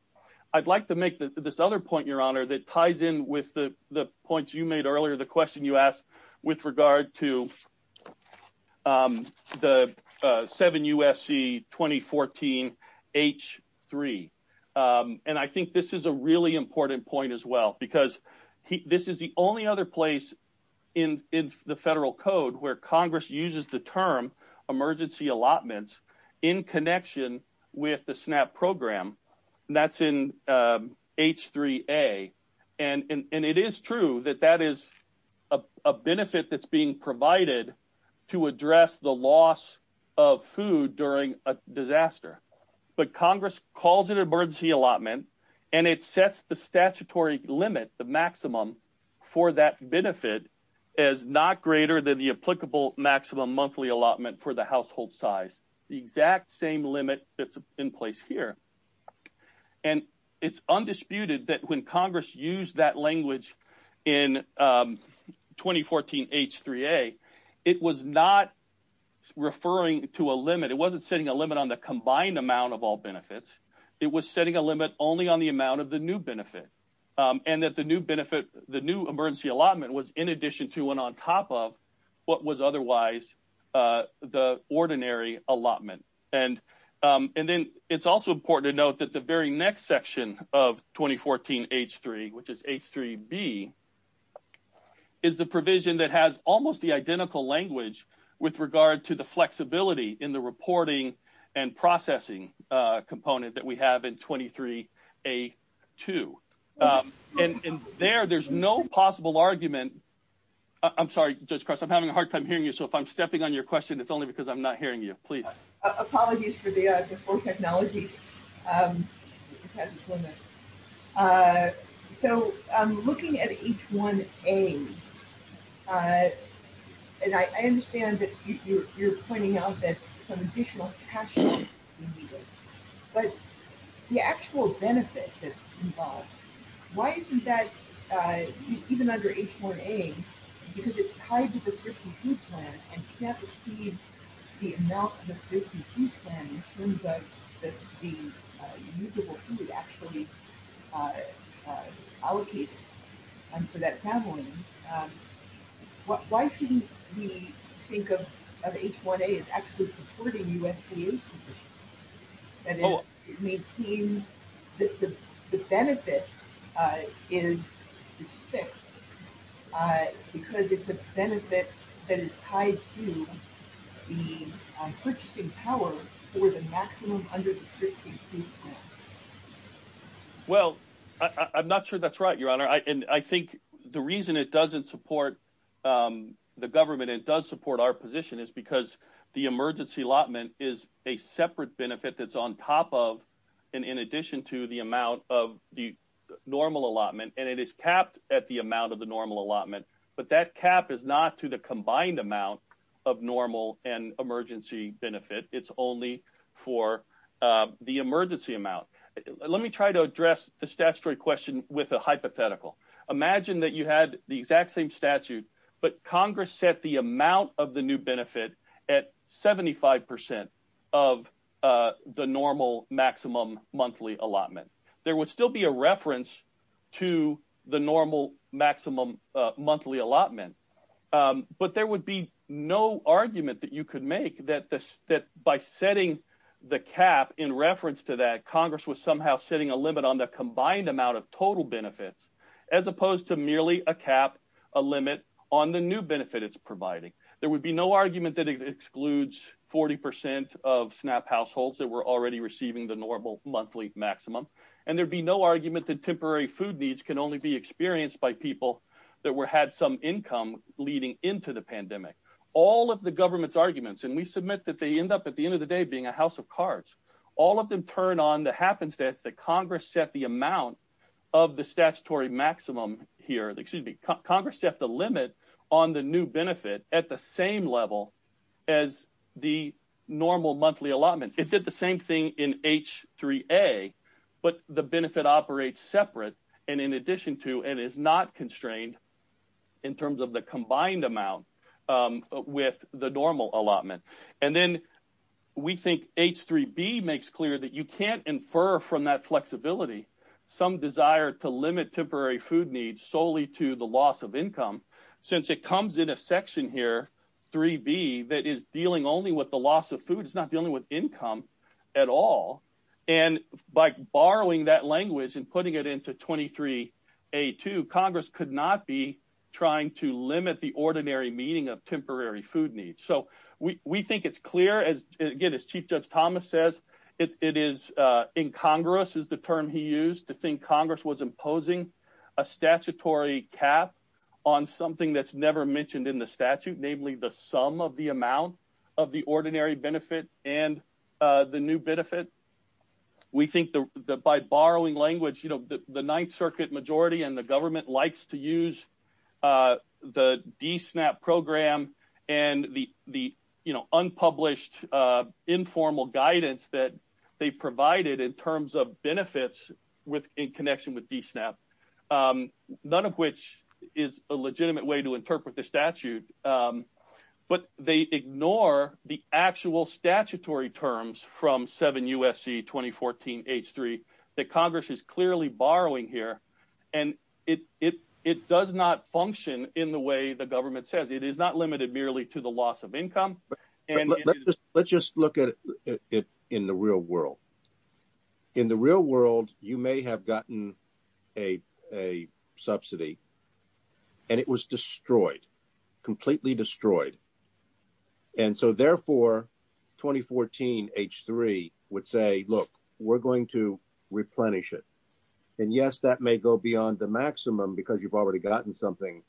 I'd like to make this other point, Your Honor, that ties in with the points you made earlier, the question you asked with regard to the 7 U.S.C. 2014 H3. And I think this is a really important point as well because this is the only other place in the federal code where Congress uses the term emergency allotments in connection with the SNAP program. That's in H3A. And it is true that that is a benefit that's being provided to address the loss of food during a disaster. But Congress calls it an emergency allotment and it sets the statutory limit, the maximum, for that benefit as not greater than the applicable maximum monthly allotment for the household size, the exact same limit that's in place here. And it's undisputed that when Congress used that language in 2014 H3A, it was not referring to a limit. It wasn't setting a limit on the combined amount of all benefits. It was setting a limit only on the amount of the new benefit and that the new benefit, the new emergency allotment was in addition to and on top of what was otherwise the ordinary allotment. And then it's also important to note that the very next section of 2014 H3, which is H3B, is the provision that has almost the identical language with regard to the flexibility in the reporting and processing component that we have in 23A2. And there, there's no possible argument. I'm sorry, Judge Cross, I'm having a hard time hearing you, so if I'm stepping on your question it's only because I'm not hearing you. Please. Apologies for the slow technology. So, looking at H1A, and I understand that you're pointing out that some additional cash would be needed, but the actual benefit that's involved, why is that, even under H1A, because it's tied to the safety food plan and can't exceed the amount of the safety food plan in terms of the usable food actually allocated for that family. Why shouldn't we think of H1A as actually supporting USDA assistance? And it maintains that the benefit is fixed because it's a benefit that is tied to the purchasing power for the maximum under the safety food plan. Well, I'm not sure that's right, Your Honor. And I think the reason it doesn't support the government and it does support our position is because the emergency allotment is a separate benefit that's on top of and in addition to the amount of the normal allotment, and it is capped at the amount of the normal allotment, but that cap is not to the combined amount of normal and emergency benefit. It's only for the emergency amount. Let me try to address the statutory question with a hypothetical. Imagine that you had the exact same statute, but Congress set the amount of the new benefit at 75% of the normal maximum monthly allotment. There would still be a reference to the normal maximum monthly allotment, but there would be no argument that you could make that by setting the cap in reference to that, as opposed to merely a cap, a limit on the new benefit it's providing. There would be no argument that it excludes 40% of SNAP households that were already receiving the normal monthly maximum, and there would be no argument that temporary food needs can only be experienced by people that had some income leading into the pandemic. All of the government's arguments, and we submit that they end up at the end of the day being a house of cards. All of them turn on the happenstance that Congress set the amount of the statutory maximum here. Excuse me. Congress set the limit on the new benefit at the same level as the normal monthly allotment. It did the same thing in H3A, but the benefit operates separate and in addition to and is not constrained in terms of the combined amount with the normal allotment. And then we think H3B makes clear that you can't infer from that flexibility some desire to limit temporary food needs solely to the loss of income, since it comes in a section here, 3B, that is dealing only with the loss of food. It's not dealing with income at all. And by borrowing that language and putting it into 23A2, Congress could not be trying to limit the ordinary meaning of temporary food needs. So we think it's clear, again, as Chief Justice Thomas says, it is incongruous is the term he used to think Congress was imposing a statutory cap on something that's never mentioned in the statute, namely the sum of the amount of the ordinary benefit and the new benefit. We think that by borrowing language, the Ninth Circuit majority and the government likes to use the DSNAP program and the unpublished informal guidance that they provided in terms of benefits in connection with DSNAP, none of which is a legitimate way to interpret the statute. But they ignore the actual statutory terms from 7 U.S.C. 2014 H3 that Congress is clearly borrowing here. And it does not function in the way the government says. It is not limited merely to the loss of income. Let's just look at it in the real world. In the real world, you may have gotten a subsidy, and it was destroyed, completely destroyed. And so, therefore, 2014 H3 would say, look, we're going to replenish it. And, yes, that may go beyond the maximum because you've already gotten something,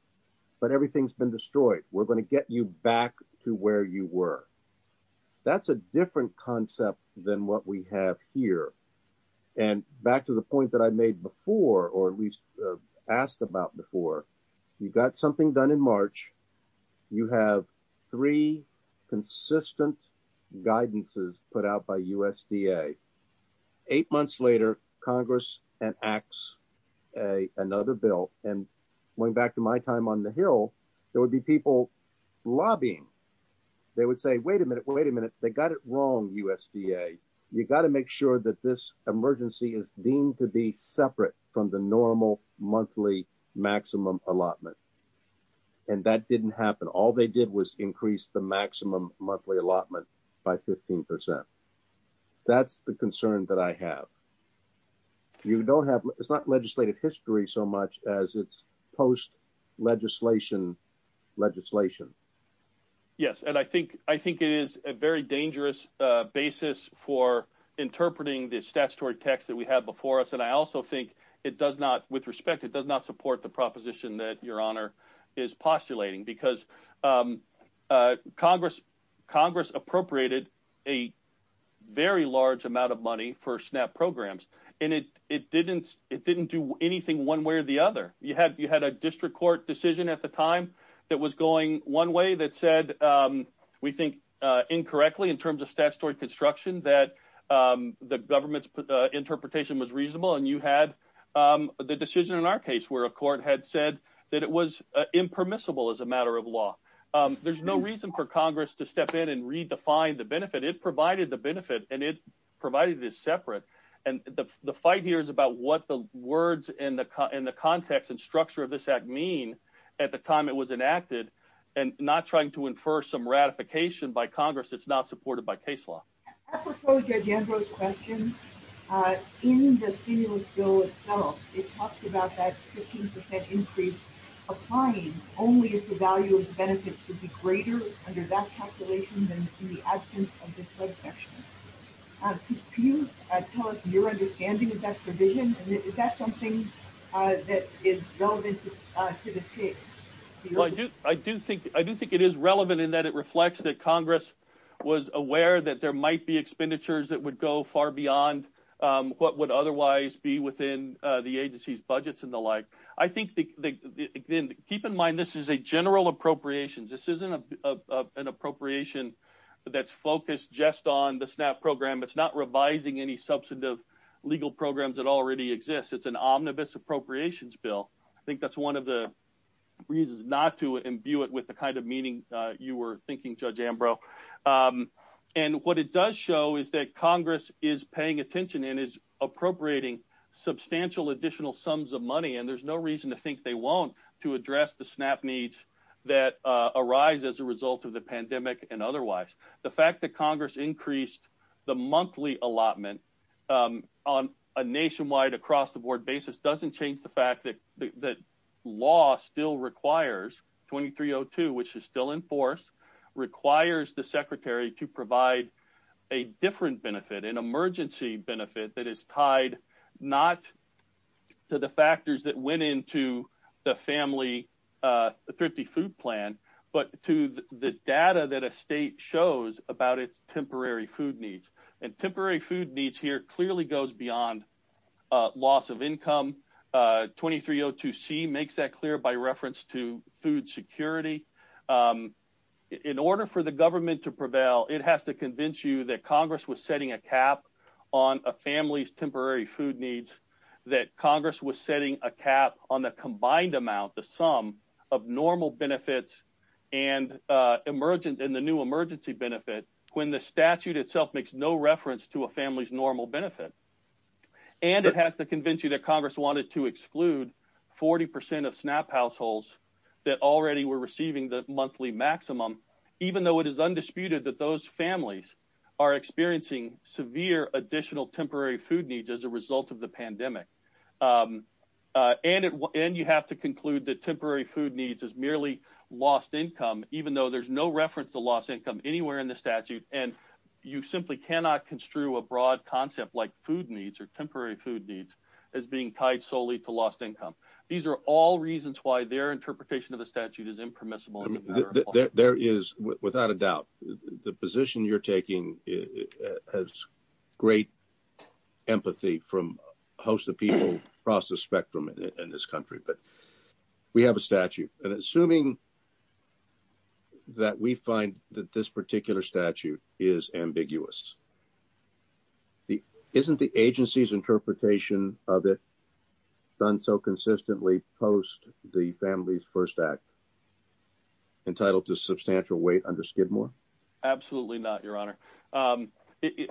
but everything's been destroyed. We're going to get you back to where you were. That's a different concept than what we have here. And back to the point that I made before, or at least asked about before, you've got something done in March. You have three consistent guidances put out by USDA. Eight months later, Congress enacts another bill. And going back to my time on the Hill, there would be people lobbying. They would say, wait a minute, wait a minute. They got it wrong, USDA. You've got to make sure that this emergency is deemed to be separate from the normal monthly maximum allotment. And that didn't happen. All they did was increase the maximum monthly allotment by 15%. That's the concern that I have. You don't have, it's not legislative history so much as it's post legislation legislation. Yes, and I think it is a very dangerous basis for interpreting this with respect. It does not support the proposition that your honor is postulating. Because Congress appropriated a very large amount of money for SNAP programs. And it didn't do anything one way or the other. You had a district court decision at the time that was going one way that said, we think incorrectly in terms of statutory construction, that the government's interpretation was reasonable. And you had the decision in our case where a court had said that it was impermissible as a matter of law. There's no reason for Congress to step in and redefine the benefit. It provided the benefit, and it provided it separate. And the fight here is about what the words and the context and structure of this act mean at the time it was enacted. And not trying to infer some ratification by Congress that's not supported by case law. I propose Judge Ando's question. In the stimulus bill itself, it talks about that 15% increase applying only if the value of the benefits would be greater under that calculation than in the absence of the subsection. Can you tell us your understanding of that provision? Is that something that is relevant to the case? I do think it is relevant in that it reflects that Congress was aware that there might be expenditures that would go far beyond what would otherwise be within the agency's budgets and the like. I think, again, keep in mind this is a general appropriations. This isn't an appropriation that's focused just on the SNAP program. It's not revising any substantive legal programs that already exist. It's an omnibus appropriations bill. I think that's one of the reasons not to imbue it with the kind of meaning you were thinking, Judge Ambrose. What it does show is that Congress is paying attention and is appropriating substantial additional sums of money. There's no reason to think they won't to address the SNAP needs that arise as a result of the pandemic and otherwise. The fact that Congress increased the monthly allotment on a nationwide, across-the-board basis doesn't change the fact that law still requires 2302, which is still in force, requires the Secretary to provide a different benefit, an emergency benefit that is tied not to the factors that went into the family thrifty food plan but to the data that a state shows about its temporary food needs. And temporary food needs here clearly goes beyond loss of income. 2302C makes that clear by reference to food security. In order for the government to prevail, it has to convince you that Congress was setting a cap on a family's temporary food needs, that Congress was setting a cap on the combined amount, the sum of normal benefits and the new emergency benefit, when the statute itself makes no reference to a family's normal benefit. And it has to convince you that Congress wanted to exclude 40% of SNAP households that already were receiving the monthly maximum, even though it is undisputed that those families are experiencing severe additional temporary food needs as a result of the pandemic. And you have to conclude that temporary food needs is merely lost income, even though there's no reference to lost income anywhere in the statute, and you simply cannot construe a broad concept like food needs or temporary food needs as being tied solely to lost income. These are all reasons why their interpretation of the statute is impermissible. There is, without a doubt, the position you're taking has great empathy from a host of people across the spectrum in this country, but we have a statute. And assuming that we find that this particular statute is ambiguous, isn't the agency's interpretation of it done so consistently post the Families First Act entitled to substantial weight under Skidmore? Absolutely not, Your Honor.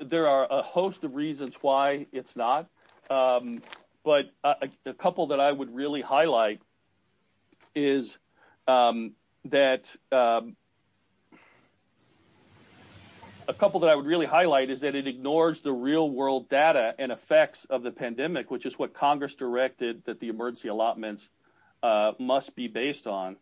There are a host of reasons why it's not, but a couple that I would really highlight is that it ignores the real-world data and effects of the pandemic, which is what Congress directed that the emergency allotments must be based on.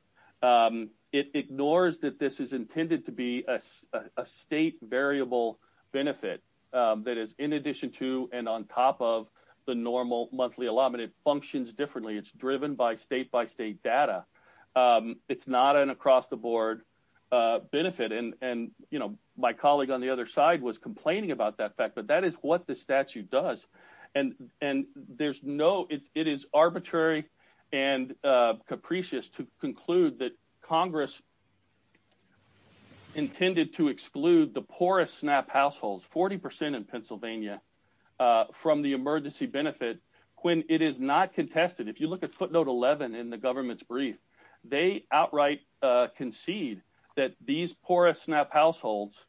It ignores that this is intended to be a state variable benefit that is in addition to and on top of the normal monthly allotment. It functions differently. It's driven by state-by-state data. It's not an across-the-board benefit. And my colleague on the other side was complaining about that fact, but that is what the statute does. And it is arbitrary and capricious to conclude that Congress intended to exclude the poorest SNAP households, 40% in Pennsylvania, from the emergency benefit when it is not contested. If you look at footnote 11 in the government's brief, they outright concede that these poorest SNAP households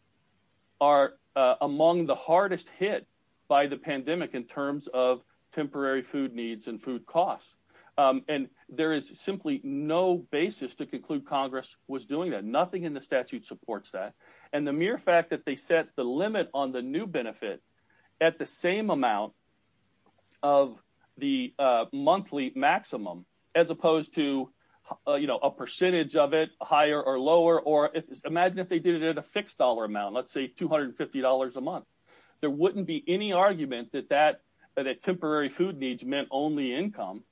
are among the hardest hit by the pandemic in terms of temporary food needs and food costs. And there is simply no basis to conclude Congress was doing that. Nothing in the statute supports that. And the mere fact that they set the limit on the new benefit at the same amount of the monthly maximum as opposed to a percentage of it, higher or lower, or imagine if they did it at a fixed dollar amount, let's say $250 a month. There wouldn't be any argument that temporary food needs meant only income.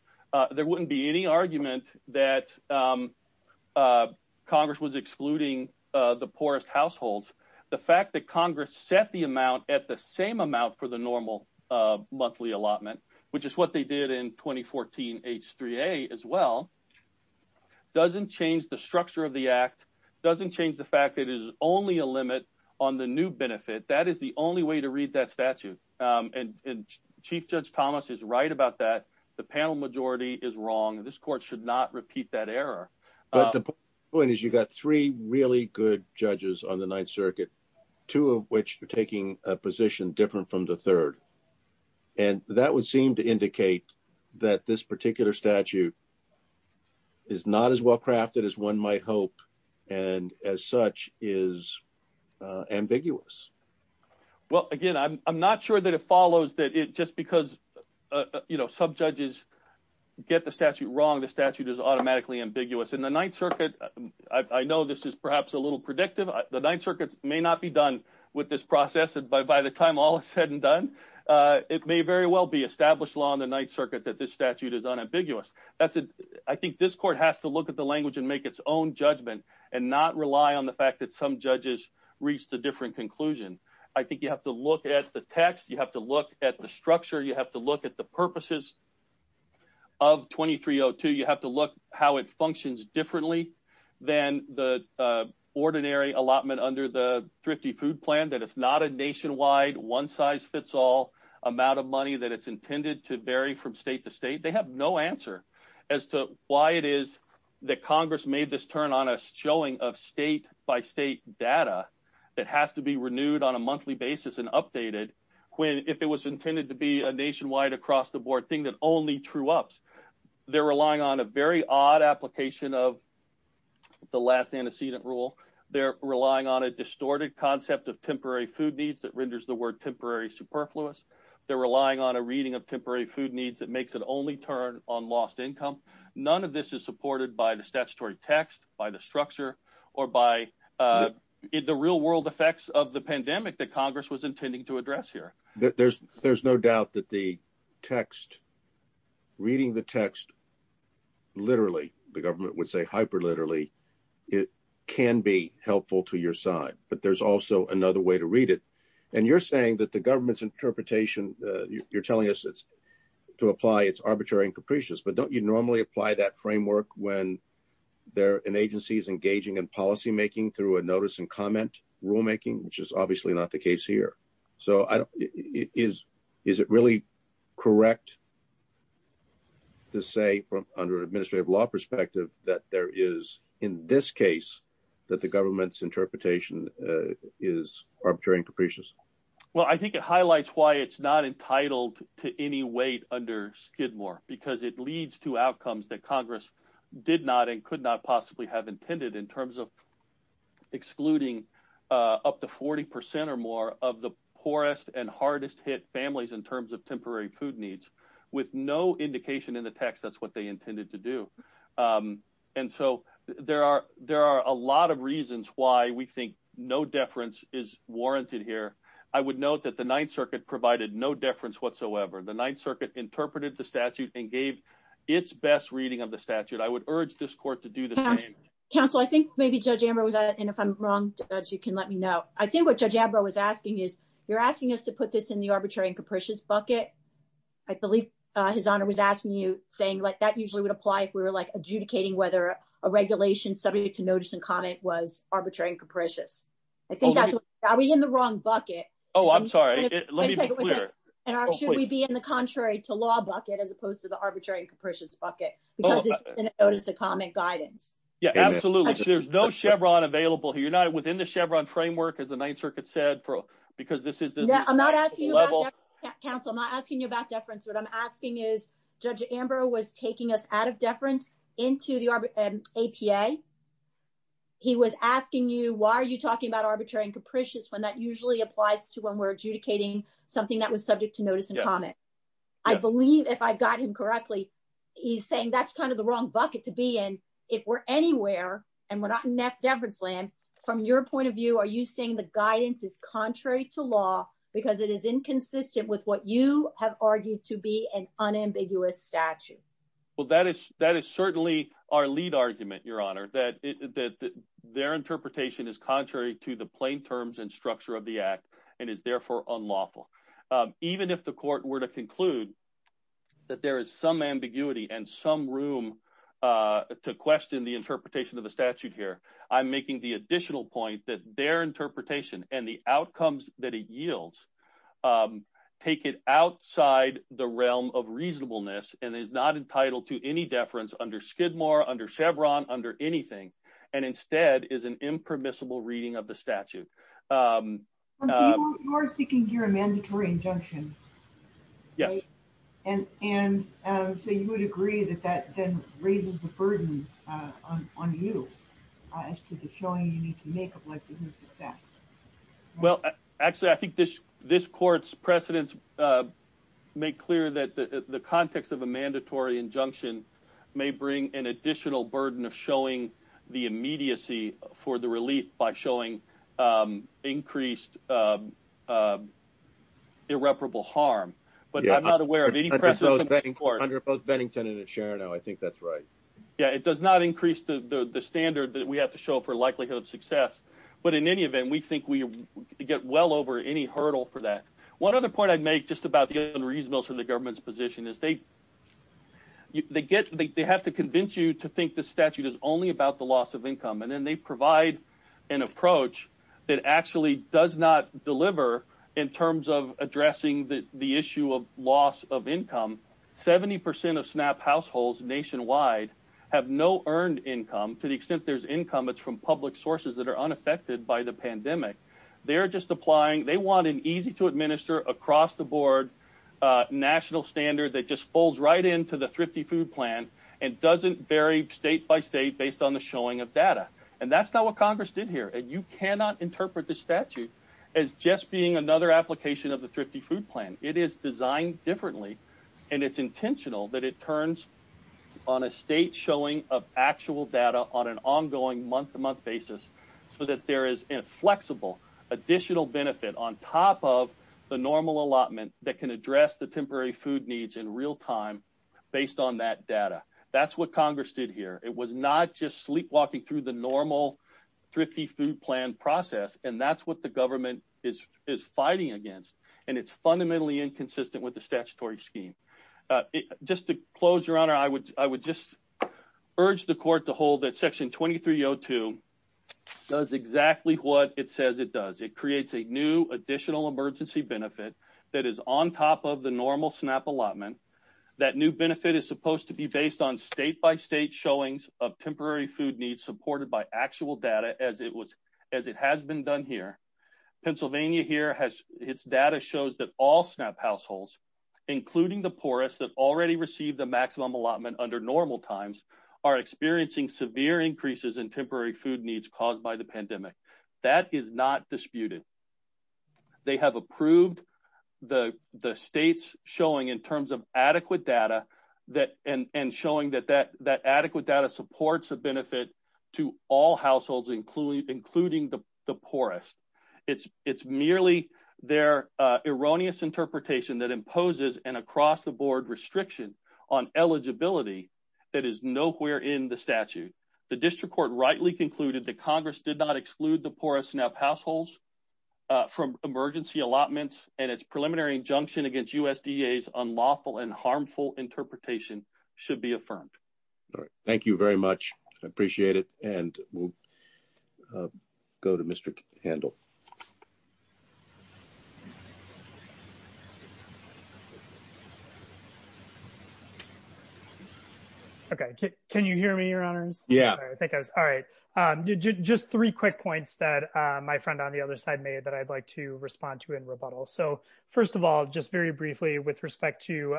There wouldn't be any argument that Congress was excluding the poorest households. The fact that Congress set the amount at the same amount for the normal monthly allotment, which is what they did in 2014 H3A as well, doesn't change the structure of the act, doesn't change the fact that it is only a limit on the new benefit. That is the only way to read that statute. And Chief Judge Thomas is right about that. The panel majority is wrong. This court should not repeat that error. But the point is you've got three really good judges on the Ninth Circuit, two of which are taking a position different from the third. And that would seem to indicate that this particular statute is not as well-crafted as one might hope and as such is ambiguous. Well, again, I'm not sure that it follows that just because, you know, some judges get the statute wrong, the statute is automatically ambiguous. And the Ninth Circuit, I know this is perhaps a little predictive, the Ninth Circuit may not be done with this process. By the time all is said and done, it may very well be established law on the Ninth Circuit that this statute is unambiguous. I think this court has to look at the language and make its own judgment and not rely on the fact that some judges reached a different conclusion. I think you have to look at the text, you have to look at the structure, you have to look at the purposes of 2302, you have to look at how it functions differently than the ordinary allotment under the Thrifty Food Plan, that it's not a nationwide one-size-fits-all amount of money that it's intended to vary from state to state. They have no answer as to why it is that Congress made this turn on a showing of state-by-state data that has to be renewed on a monthly basis and updated if it was intended to be a nationwide across-the-board thing that only true-ups. They're relying on a very odd application of the last antecedent rule. They're relying on a distorted concept of temporary food needs that renders the word temporary superfluous. They're relying on a reading of temporary food needs that makes it only turn on lost income. None of this is supported by the statutory text, by the structure, or by the real-world effects of the pandemic that Congress was intending to address here. There's no doubt that the text, reading the text literally, the government would say hyper-literally, it can be helpful to your side. But there's also another way to read it. And you're saying that the government's interpretation, you're telling us to apply it's arbitrary and capricious, but don't you normally apply that framework when an agency is engaging in policymaking through a notice and comment rulemaking, which is obviously not the case here. So is it really correct to say from an administrative law perspective that there is, in this case, that the government's interpretation is arbitrary and capricious? Well, I think it highlights why it's not entitled to any weight under Skidmore, because it leads to outcomes that Congress did not and could not possibly have intended in terms of excluding up to 40% or more of the poorest and hardest hit families in terms of temporary food needs, with no indication in the text that's what they intended to do. And so there are a lot of reasons why we think no deference is warranted here. I would note that the Ninth Circuit provided no deference whatsoever. The Ninth Circuit interpreted the statute and gave its best reading of the statute. I would urge this court to do the same. Counsel, I think maybe Judge Amber was, and if I'm wrong, you can let me know. I think what Judge Amber was asking is, you're asking us to put this in the arbitrary and capricious bucket. I believe his honor was asking you saying like that usually would apply if we were like adjudicating, whether a regulation subject to notice and comment was arbitrary and capricious. I think that's probably in the wrong bucket. Oh, I'm sorry. Let me be clear. Should we be in the contrary to law bucket as opposed to the arbitrary and capricious bucket? Because this is a notice of comment guidance. Yeah, absolutely. There's no Chevron available here. You're not within the Chevron framework as the Ninth Circuit said, Brooke, because this is the level. Counsel, I'm not asking you about deference. What I'm asking is Judge Amber was taking us out of deference into the APA. He was asking you, why are you talking about arbitrary and capricious when that usually applies to when we're adjudicating something that was subject to notice and comment? I believe if I've got him correctly, he's saying that's kind of the wrong bucket to be in if we're anywhere. And we're not in that deference plan from your point of view, are you saying the guidance is contrary to law because it is inconsistent with what you have argued to be an unambiguous statute? Well, that is, that is certainly our lead argument, your honor, that, that their interpretation is contrary to the plain terms and structure of the act and is therefore unlawful. Even if the court were to conclude that there is some ambiguity and some room to question the interpretation of the statute here, I'm making the additional point that their interpretation and the outcomes that it yields, take it outside the realm of reasonableness and is not entitled to any deference under Skidmore under Chevron under anything. And instead is an impermissible reading of the statute. You are speaking to your mandatory injunction. Yes. And, and so you would agree that that then raises the burden on, on you as to the showing you need to make it less than success. Well, actually I think this, this court's precedents make clear that the, the context of a mandatory injunction may bring an additional burden of showing the immediacy for the relief by showing increased irreparable harm. But I'm not aware of any precedent under both Bennington and Sharon. Oh, I think that's right. Yeah. It does not increase the standard that we have to show for likelihood of success. But in any event, we think we get well over any hurdle for that. One other point I'd make just about the reasonableness of the government's position is they, they get, they have to convince you to think the statute is only about the loss of income. And then they provide an approach that actually does not deliver in terms of addressing the issue of loss of income. 70% of snap households nationwide have no earned income to the extent there's income. It's from public sources that are unaffected by the pandemic. They're just applying. They want an easy to administer across the board national standard that just falls right into the thrifty food plan and doesn't vary state by state based on the showing of data. And that's not what Congress did here. And you cannot interpret the statute as just being another application of the thrifty food plan. It is designed differently and it's intentional that it turns on a state showing of actual data on an ongoing month to month basis so that there is flexible additional benefit on top of the normal allotment that can address the temporary food needs in real time based on that data. That's what Congress did here. It was not just sleepwalking through the normal thrifty food plan process. And that's what the government is, is fighting against and it's fundamentally inconsistent with the statutory scheme. Just to close your honor, I would, I would just urge the court to hold that section 2302 does exactly what it says it does. It creates a new additional emergency benefit that is on top of the normal snap allotment. That new benefit is supposed to be based on state by state showings of temporary food needs supported by actual data. As it was, as it has been done here, Pennsylvania here has, it's data shows that all snap households, including the poorest that already received the maximum allotment under normal times are experiencing severe increases in temporary food needs caused by the pandemic. That is not disputed. They have approved the, the state's showing in terms of adequate data that, and, and showing that that, that adequate data supports a benefit to all households, including, including the poorest it's, it's merely their erroneous interpretation that imposes an across the board restriction on eligibility. It is nowhere in the statute. The district court rightly concluded that Congress did not exclude the poorest snap households from emergency allotments and its preliminary injunction against USDA is unlawful and harmful interpretation should be affirmed. All right. Thank you very much. I appreciate it. And we'll go to Mr. Handle. Okay. Can you hear me? Your honor? Yeah, I think I was. All right. Just three quick points that my friend on the other side may, but I'd like to respond to in rebuttal. So first of all, just very briefly with respect to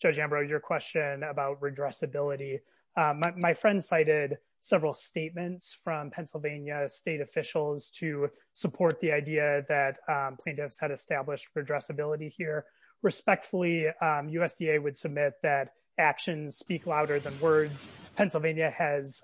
judge Ambrose, your question about redress ability. My friend cited several statements from Pennsylvania state officials to support the idea that plaintiffs had established for address ability here respectfully USDA would submit that actions speak louder than words. Pennsylvania has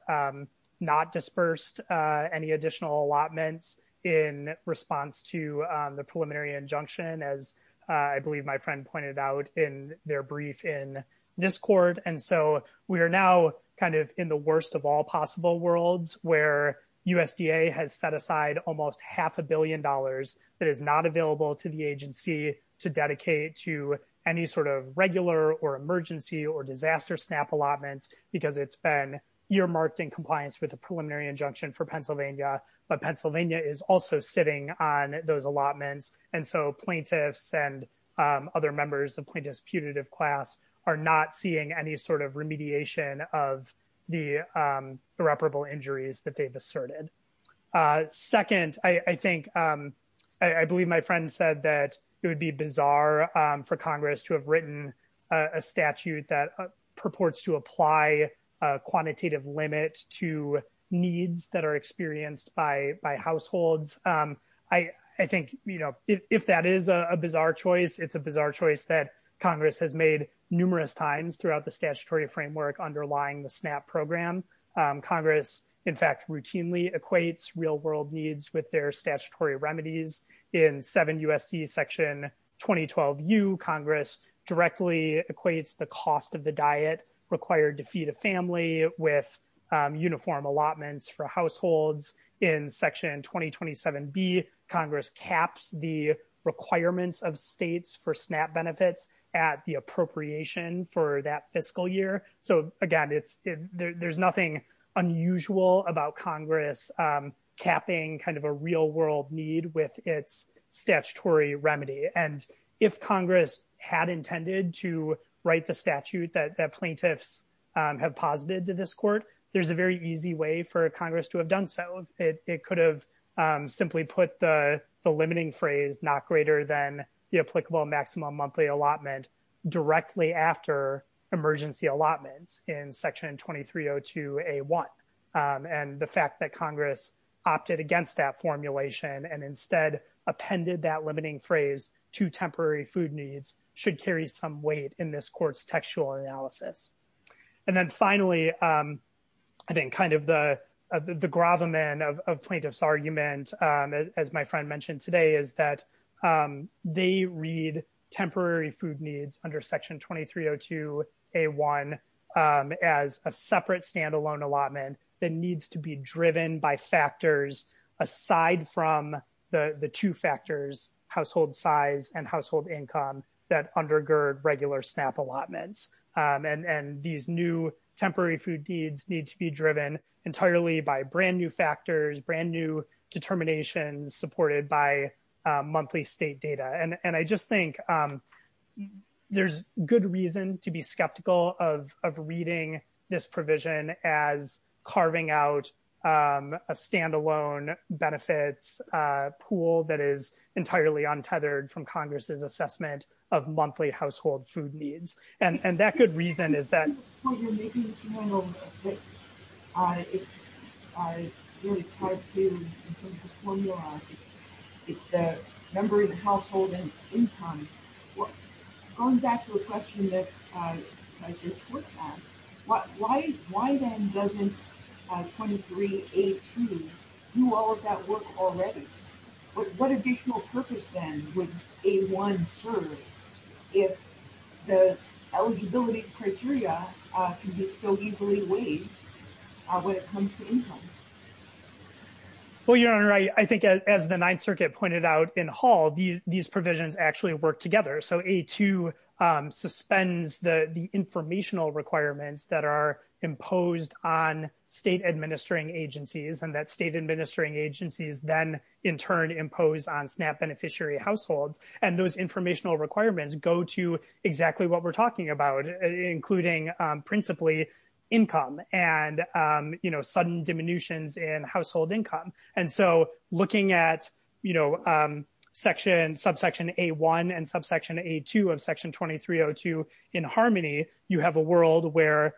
not dispersed any additional allotments in response to the preliminary injunction. As I believe my friend pointed out in their brief in this court. And so we are now kind of in the worst of all possible worlds where USDA has set aside almost half a billion dollars that is not available to the agency to dedicate to any sort of regular or emergency or disaster snap allotments because it's been your marketing compliance with the preliminary injunction for Pennsylvania, but Pennsylvania is also sitting on those allotments. And so plaintiffs and other members of plaintiffs putative class are not seeing any sort of remediation of the irreparable injuries that they've inserted. Second, I think I, I believe my friend said that it would be bizarre for Congress to have written a statute that purports to apply a quantitative limit to needs that are experienced by, by households. I, I think, you know, if that is a bizarre choice, it's a bizarre choice that Congress has made numerous times throughout the statutory framework underlying the snap program. Congress, in fact, routinely equates real world needs with their statutory remedies in seven USDA section 2012, you Congress directly equates the cost of the diet required to feed a family with uniform allotments for households in section 2027B. Congress caps the requirements of states for snap benefits at the appropriation for that fiscal year. So again, it's, there's nothing unusual about Congress capping kind of a real world need with its statutory remedy. And if Congress had intended to write the statute that plaintiffs have posited to this court, there's a very easy way for Congress to have done. So it could have simply put the limiting phrase, not greater than the applicable maximum monthly allotment directly after emergency allotments in section 2302A1. And the fact that Congress opted against that formulation and instead appended that limiting phrase to temporary food needs should carry some weight in this court's textual analysis. And then finally, I think kind of the, the grovel man of plaintiff's argument as my friend mentioned today is that they read temporary food needs under section 2302A1 as a separate standalone allotment that needs to be driven by factors aside from the, the two factors, household size and household income that undergird regular snap allotments. And, and these new temporary food needs needs to be driven entirely by brand new factors, brand new determination supported by monthly state data. And I just think there's good reason to be skeptical of, of reading this provision as carving out a standalone benefits pool that is entirely untethered from Congress's assessment of monthly household food needs. And that good reason is that it's, it's a, it's a member of the household income. Going back to the question that, that this court asked, why, why then doesn't 23A2 do all of that work already? But what additional purpose then would A1 serve if the eligibility criteria so easily waived when it comes to income? Well, your honor, I think as the ninth circuit pointed out in hall, these provisions actually work together. So A2 suspends the informational requirements that are imposed on state administering agencies and that state administering agencies then in turn impose on SNAP beneficiary households. And those informational requirements go to exactly what we're talking about, including principally income and you know, sudden diminutions in household income. And so looking at, you know, section subsection A1 and subsection A2 of section 2302 in harmony, you have a world where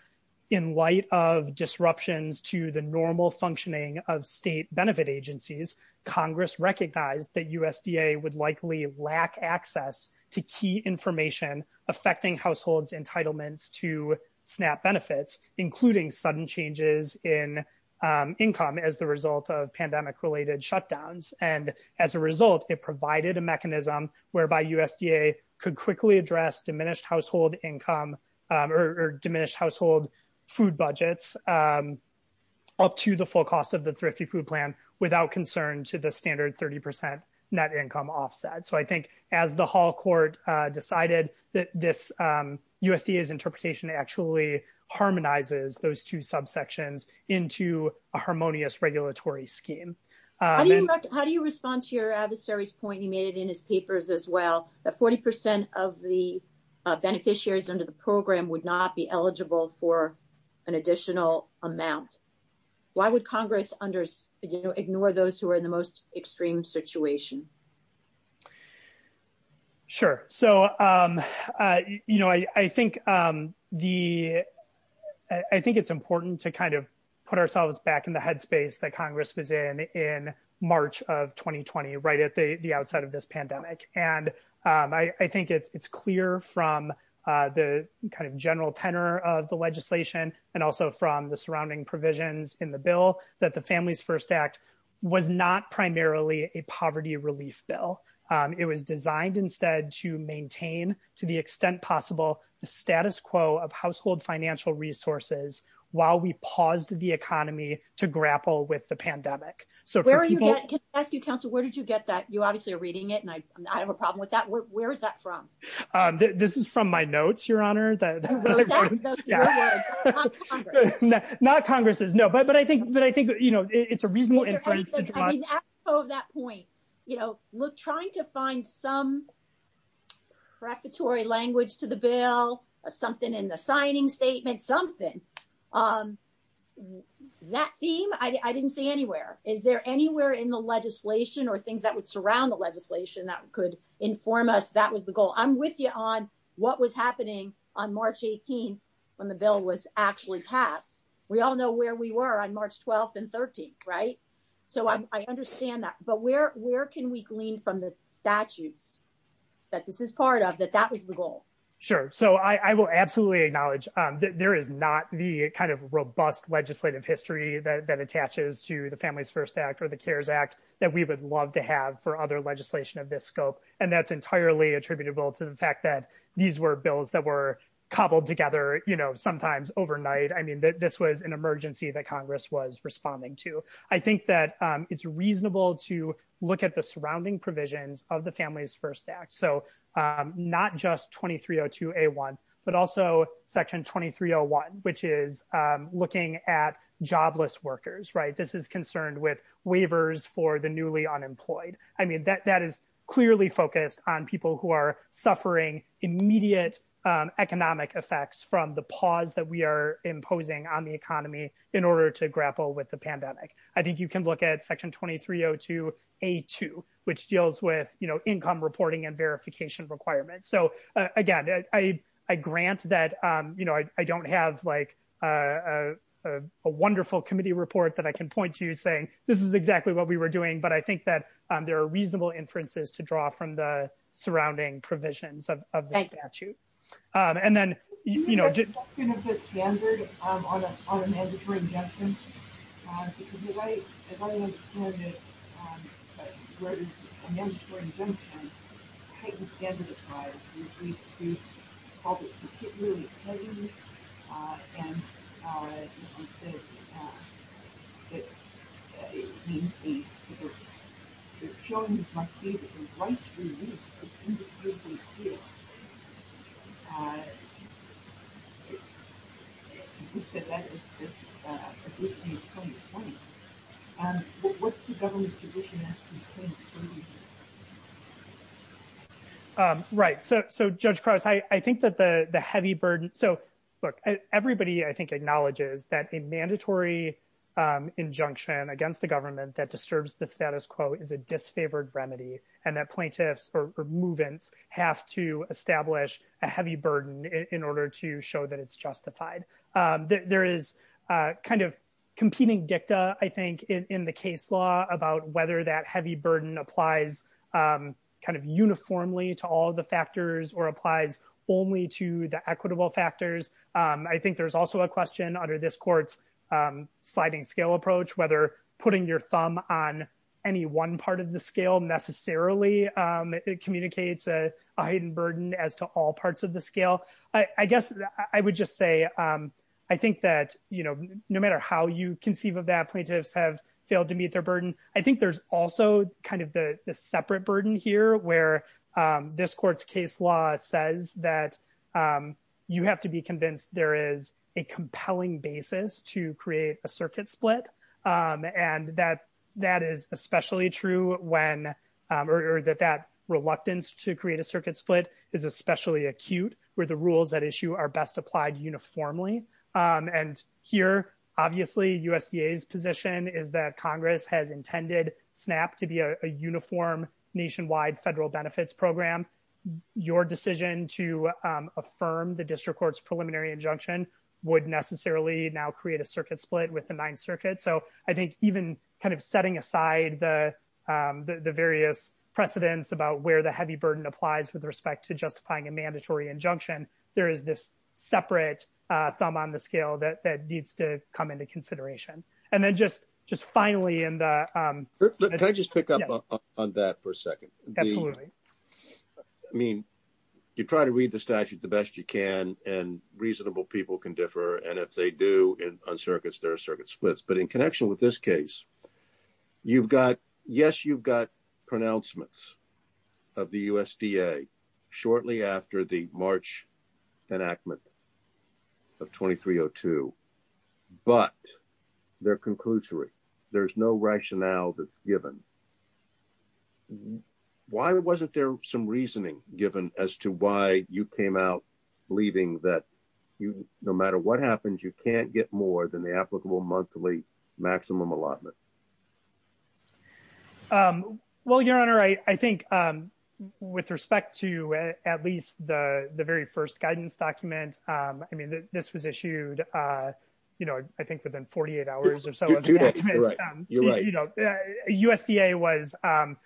in light of disruptions to the normal functioning of state benefit agencies, Congress recognized that USDA would likely lack access to key information affecting households entitlements to SNAP benefits, including sudden changes in income as the result of pandemic related shutdowns. And as a result, it provided a mechanism whereby USDA could quickly address diminished household income or diminished household food budgets up to the full cost of the thrifty food plan without concern to the standard 30% net income offset. So I think as the hall court decided that this USDA's interpretation actually harmonizes those two subsections into a harmonious regulatory scheme. How do you respond to your adversary's point? You made it in his papers as well, that 40% of the beneficiaries under the program would not be eligible for an additional amount. Why would Congress under ignore those who are in the most vulnerable? Sure. So, um, uh, you know, I, I think, um, the, I think it's important to kind of put ourselves back in the headspace that Congress was in, in March of 2020, right at the, the outside of this pandemic. And, um, I, I think it's, it's clear from the kind of general tenor of the legislation and also from the surrounding provisions in the bill that the families first act was not primarily a poverty relief bill. Um, it was designed instead to maintain to the extent possible the status quo of household financial resources while we paused the economy to grapple with the pandemic. So where are you at council? Where did you get that? You obviously are reading it and I have a problem with that. Where is that from? Um, this is from my notes, your honor, it's a reasonable. Oh, that point, you know, look, trying to find some preparatory language to the bill or something in the signing statement, something, um, that theme, I didn't see anywhere. Is there anywhere in the legislation or things that would surround the legislation that could inform us? That was the goal. I'm with you on what was happening on March 18th when the bill was actually passed. We all know where we were on March 12th and 13th. Right. So I understand that, but where, where can we glean from the statute that this is part of that? That was the goal. Sure. So I will absolutely acknowledge that there is not the kind of robust legislative history that, that attaches to the family's first act or the cares act that we would love to have for other legislation of this scope. And that's entirely attributable to the fact that these were bills that were cobbled together, you know, sometimes overnight. I mean, this was an emergency that Congress was responding to. I think that it's reasonable to look at the surrounding provisions of the family's first act. So, um, not just 2302 a one, but also section 2301, which is, um, looking at jobless workers, right. This is concerned with waivers for the newly unemployed. I mean, that, that is clearly focused on people who are suffering immediate, um, economic effects from the pause that we are imposing on the economy in order to grapple with the pandemic. I think you can look at section 2302, a two, which deals with, you know, income reporting and verification requirements. So, uh, again, I, I grant that, um, you know, I, I don't have like, uh, uh, a wonderful committee report that I can point to you saying, this is exactly what we were doing, but I think that there are reasonable inferences to draw from the and then, you know, Okay. Um, right. So, so judge cross, I, I think that the, the heavy burden, so look at everybody, I think acknowledges that a mandatory, um, injunction against the government that disturbs the status quo is a disfavored remedy and that plaintiffs or movements have to establish a standard in order to show that it's justified. Um, there is, uh, kind of competing dicta, I think in, in the case law about whether that heavy burden applies, um, kind of uniformly to all the factors or applies only to the equitable factors. Um, I think there's also a question under this court, um, sliding scale approach, whether putting your thumb on any one part of the scale necessarily, um, it communicates a, a hidden burden as to all parts of the scale. I guess I would just say, um, I think that, you know, no matter how you conceive of that plaintiffs have failed to meet their burden. I think there's also kind of the separate burden here where, um, this court's case law says that, um, you have to be convinced there is a compelling basis to create a circuit split. Um, and that, that is especially true when, um, or that that reluctance to create a circuit split is especially acute where the rules that issue are best applied uniformly. Um, and here obviously USDA's position is that Congress has intended snap to be a uniform nationwide federal benefits program. Your decision to, um, affirm the district court's preliminary injunction would necessarily now create a circuit split with the ninth circuit. So I think even kind of setting aside the, um, the various precedents about where the heavy burden applies with respect to justifying a mandatory injunction, there is this separate, uh, thumb on the scale that needs to come into consideration. And then just, just finally in the, um, Can I just pick up on that for a second? Absolutely. I mean, you try to read the statute the best you can and reasonable people can differ. And if they do on circuits, there are circuit splits, but in connection with this case, you've got, yes, you've got pronouncements of the USDA shortly after the March enactment of 2302, but they're conclusory. There's no rationale that's given. Why wasn't there some reasoning given as to why you came out believing that you, no matter what happens, you can't get more than the applicable monthly maximum allotment. Um, well, your honor, I, I think, um, with respect to at least the very first guidance document, um, I mean, this was issued, uh, you know, I think within 48 hours or so USDA was, um,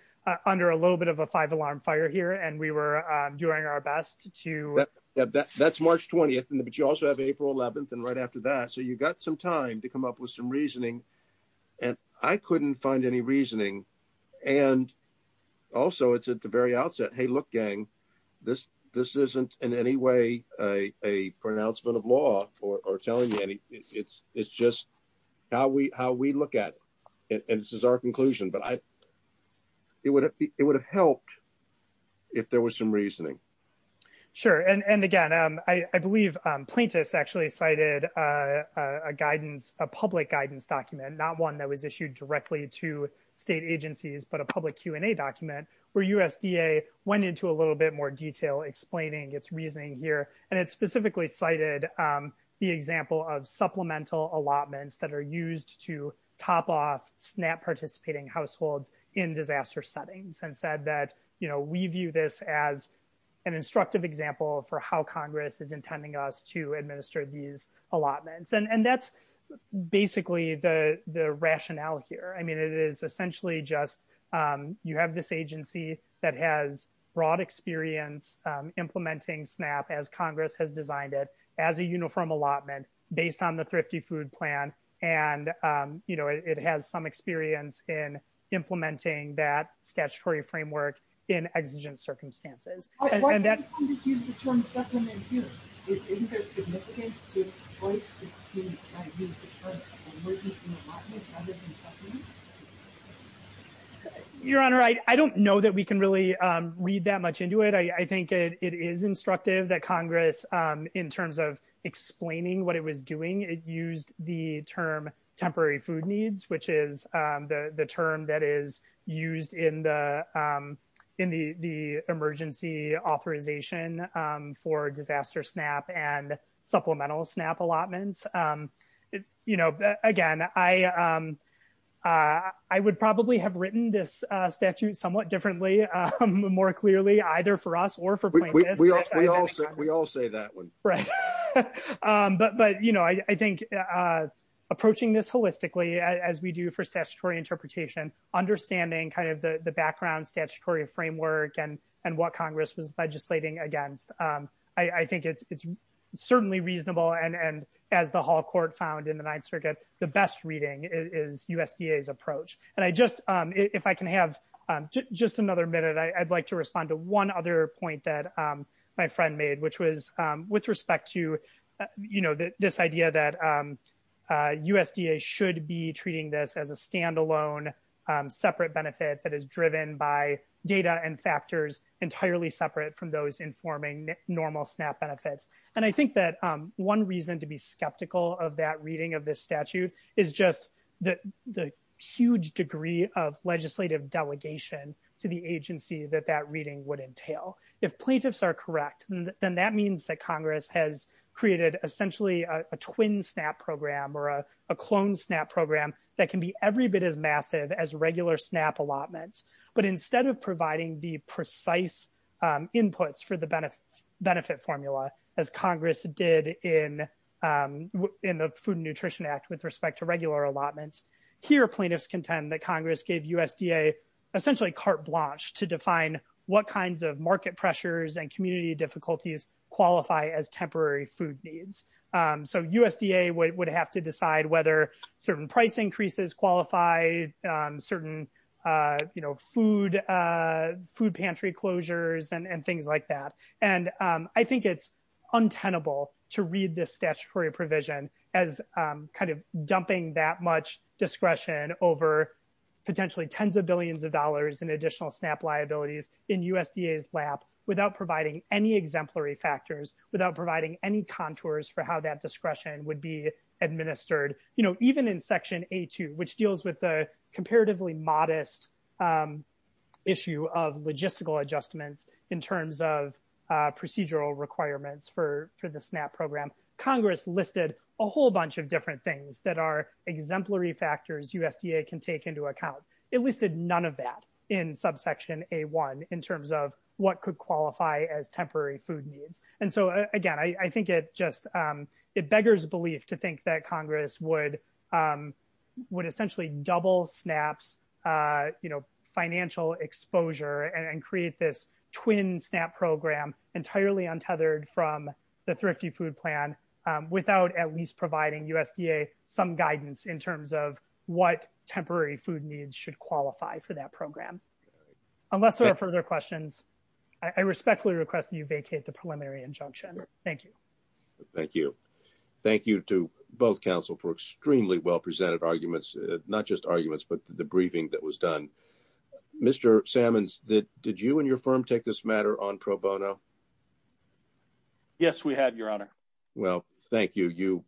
under a little bit of a five alarm fire here and we were doing our best to that. That's March 20th. But you also have April 11th and right after that. So you got some time to come up with some reasoning and I couldn't find any reasoning. And also it's at the very outset, Hey, look, gang, this, this isn't in any way, uh, a pronouncement of law or, or telling you any, it's, it's just how we, how we look at it. And this is our conclusion, but I, it would, it would have helped if there was some reasoning. Sure. And, and again, um, I, I believe, um, plaintiffs actually cited, uh, a guidance, a public guidance document, not one that was issued directly to state agencies, but a public Q and a document where USDA went into a little bit more detail explaining its reasoning here. And it's specifically cited, um, the example of supplemental allotments that are used to top off snap participating households in disaster settings and said that, you know, we view this as an instructive example for how Congress is intending us to respond. And, and that's basically the, the rationale here. I mean, it is essentially just, um, you have this agency that has broad experience, um, implementing snap as Congress has designed it as a uniform allotment based on the thrifty food plan. And, um, you know, it has some experience in implementing that statutory framework in urgent circumstances. And that's Your honor. I don't know that we can really read that much into it. I, I think it is instructive that Congress, um, in terms of explaining what it was doing, it used the term temporary food needs, which is, um, the, the term that is used in the, um, in the, the emergency authorization, um, for disaster snap and supplemental snap allotments. Um, you know, again, I, um, uh, I would probably have written this statute somewhat differently, um, more clearly either for us or for, we all, we all say that one. Right. Um, but, but, you know, I, I think, uh, approaching this holistically as we do for statutory interpretation, understanding kind of the, the background statutory framework and what Congress was legislating against. Um, I think it's, it's certainly reasonable. And, and as the hall court found in the ninth circuit, the best reading is USDA approach. And I just, um, if I can have, um, just another minute, I'd like to respond to one other point that, um, my friend made, which was, um, with respect to, you know, this idea that, um, uh, USDA should be treating this as a standalone, um, separate benefit that is driven by data and factors entirely separate from those informing normal snap benefits. And I think that, um, one reason to be skeptical of that reading of this statute is just the, the huge degree of legislative delegation to the agency that that reading would entail. If plaintiffs are correct, then that means that Congress has created essentially a twin snap program or a, a clone snap program that can be every bit as massive as regular snap allotments. But instead of providing the precise, um, inputs for the benefit benefit formula, as Congress did in, um, in the food and nutrition act with respect to regular allotments here, plaintiffs contend that Congress gave USDA essentially carte blanche to define what kinds of market pressures and community difficulties qualify as temporary food needs. Um, so USDA would have to decide whether certain price increases qualify, um, certain, uh, you know, food, uh, food pantry closures and things like that. And, um, I think it's untenable to read this statutory provision as, um, kind of dumping that much discretion over potentially tens of billions of dollars into the, uh, to determine what kind of market pressures and community difficulties in USDA is lap without providing any exemplary factors without providing any contours for how that discretion would be administered. You know, even in section a two, which deals with the comparatively modest, um, issue of logistical adjustments in terms of, uh, uh, discretion would be exercised by USDA, one in terms of what could qualify as temporary food needs. And so, uh, again, I think it just, um, it beggars belief to think that Congress would, um, would essentially double snaps, uh, you know, financial exposure and create this twin snap program entirely untethered from the thrifty food plan, um, without at least providing USDA some guidance in terms of what temporary food needs should qualify for that program. Unless there are further questions, I respectfully request that you vacate the preliminary injunction. Thank you. Thank you. Thank you to both council for extremely well presented arguments, not just arguments, but the briefing that was done. Mr. Salmon's that did you and your firm take this matter on pro bono? Yes, we had your honor. Well, thank you. You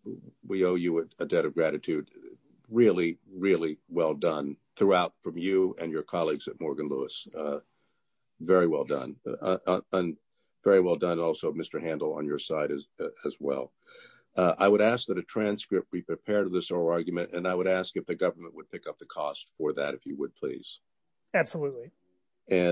we owe you a debt of gratitude. Really, really well done throughout from you and your colleagues at Morgan Lewis. Uh, very well done. Uh, and very well done also Mr. Handle on your side as well. Uh, I would ask that a transcript be prepared to this oral argument. And I would ask if the government would pick up the cost for that, if you would, please. Absolutely. And.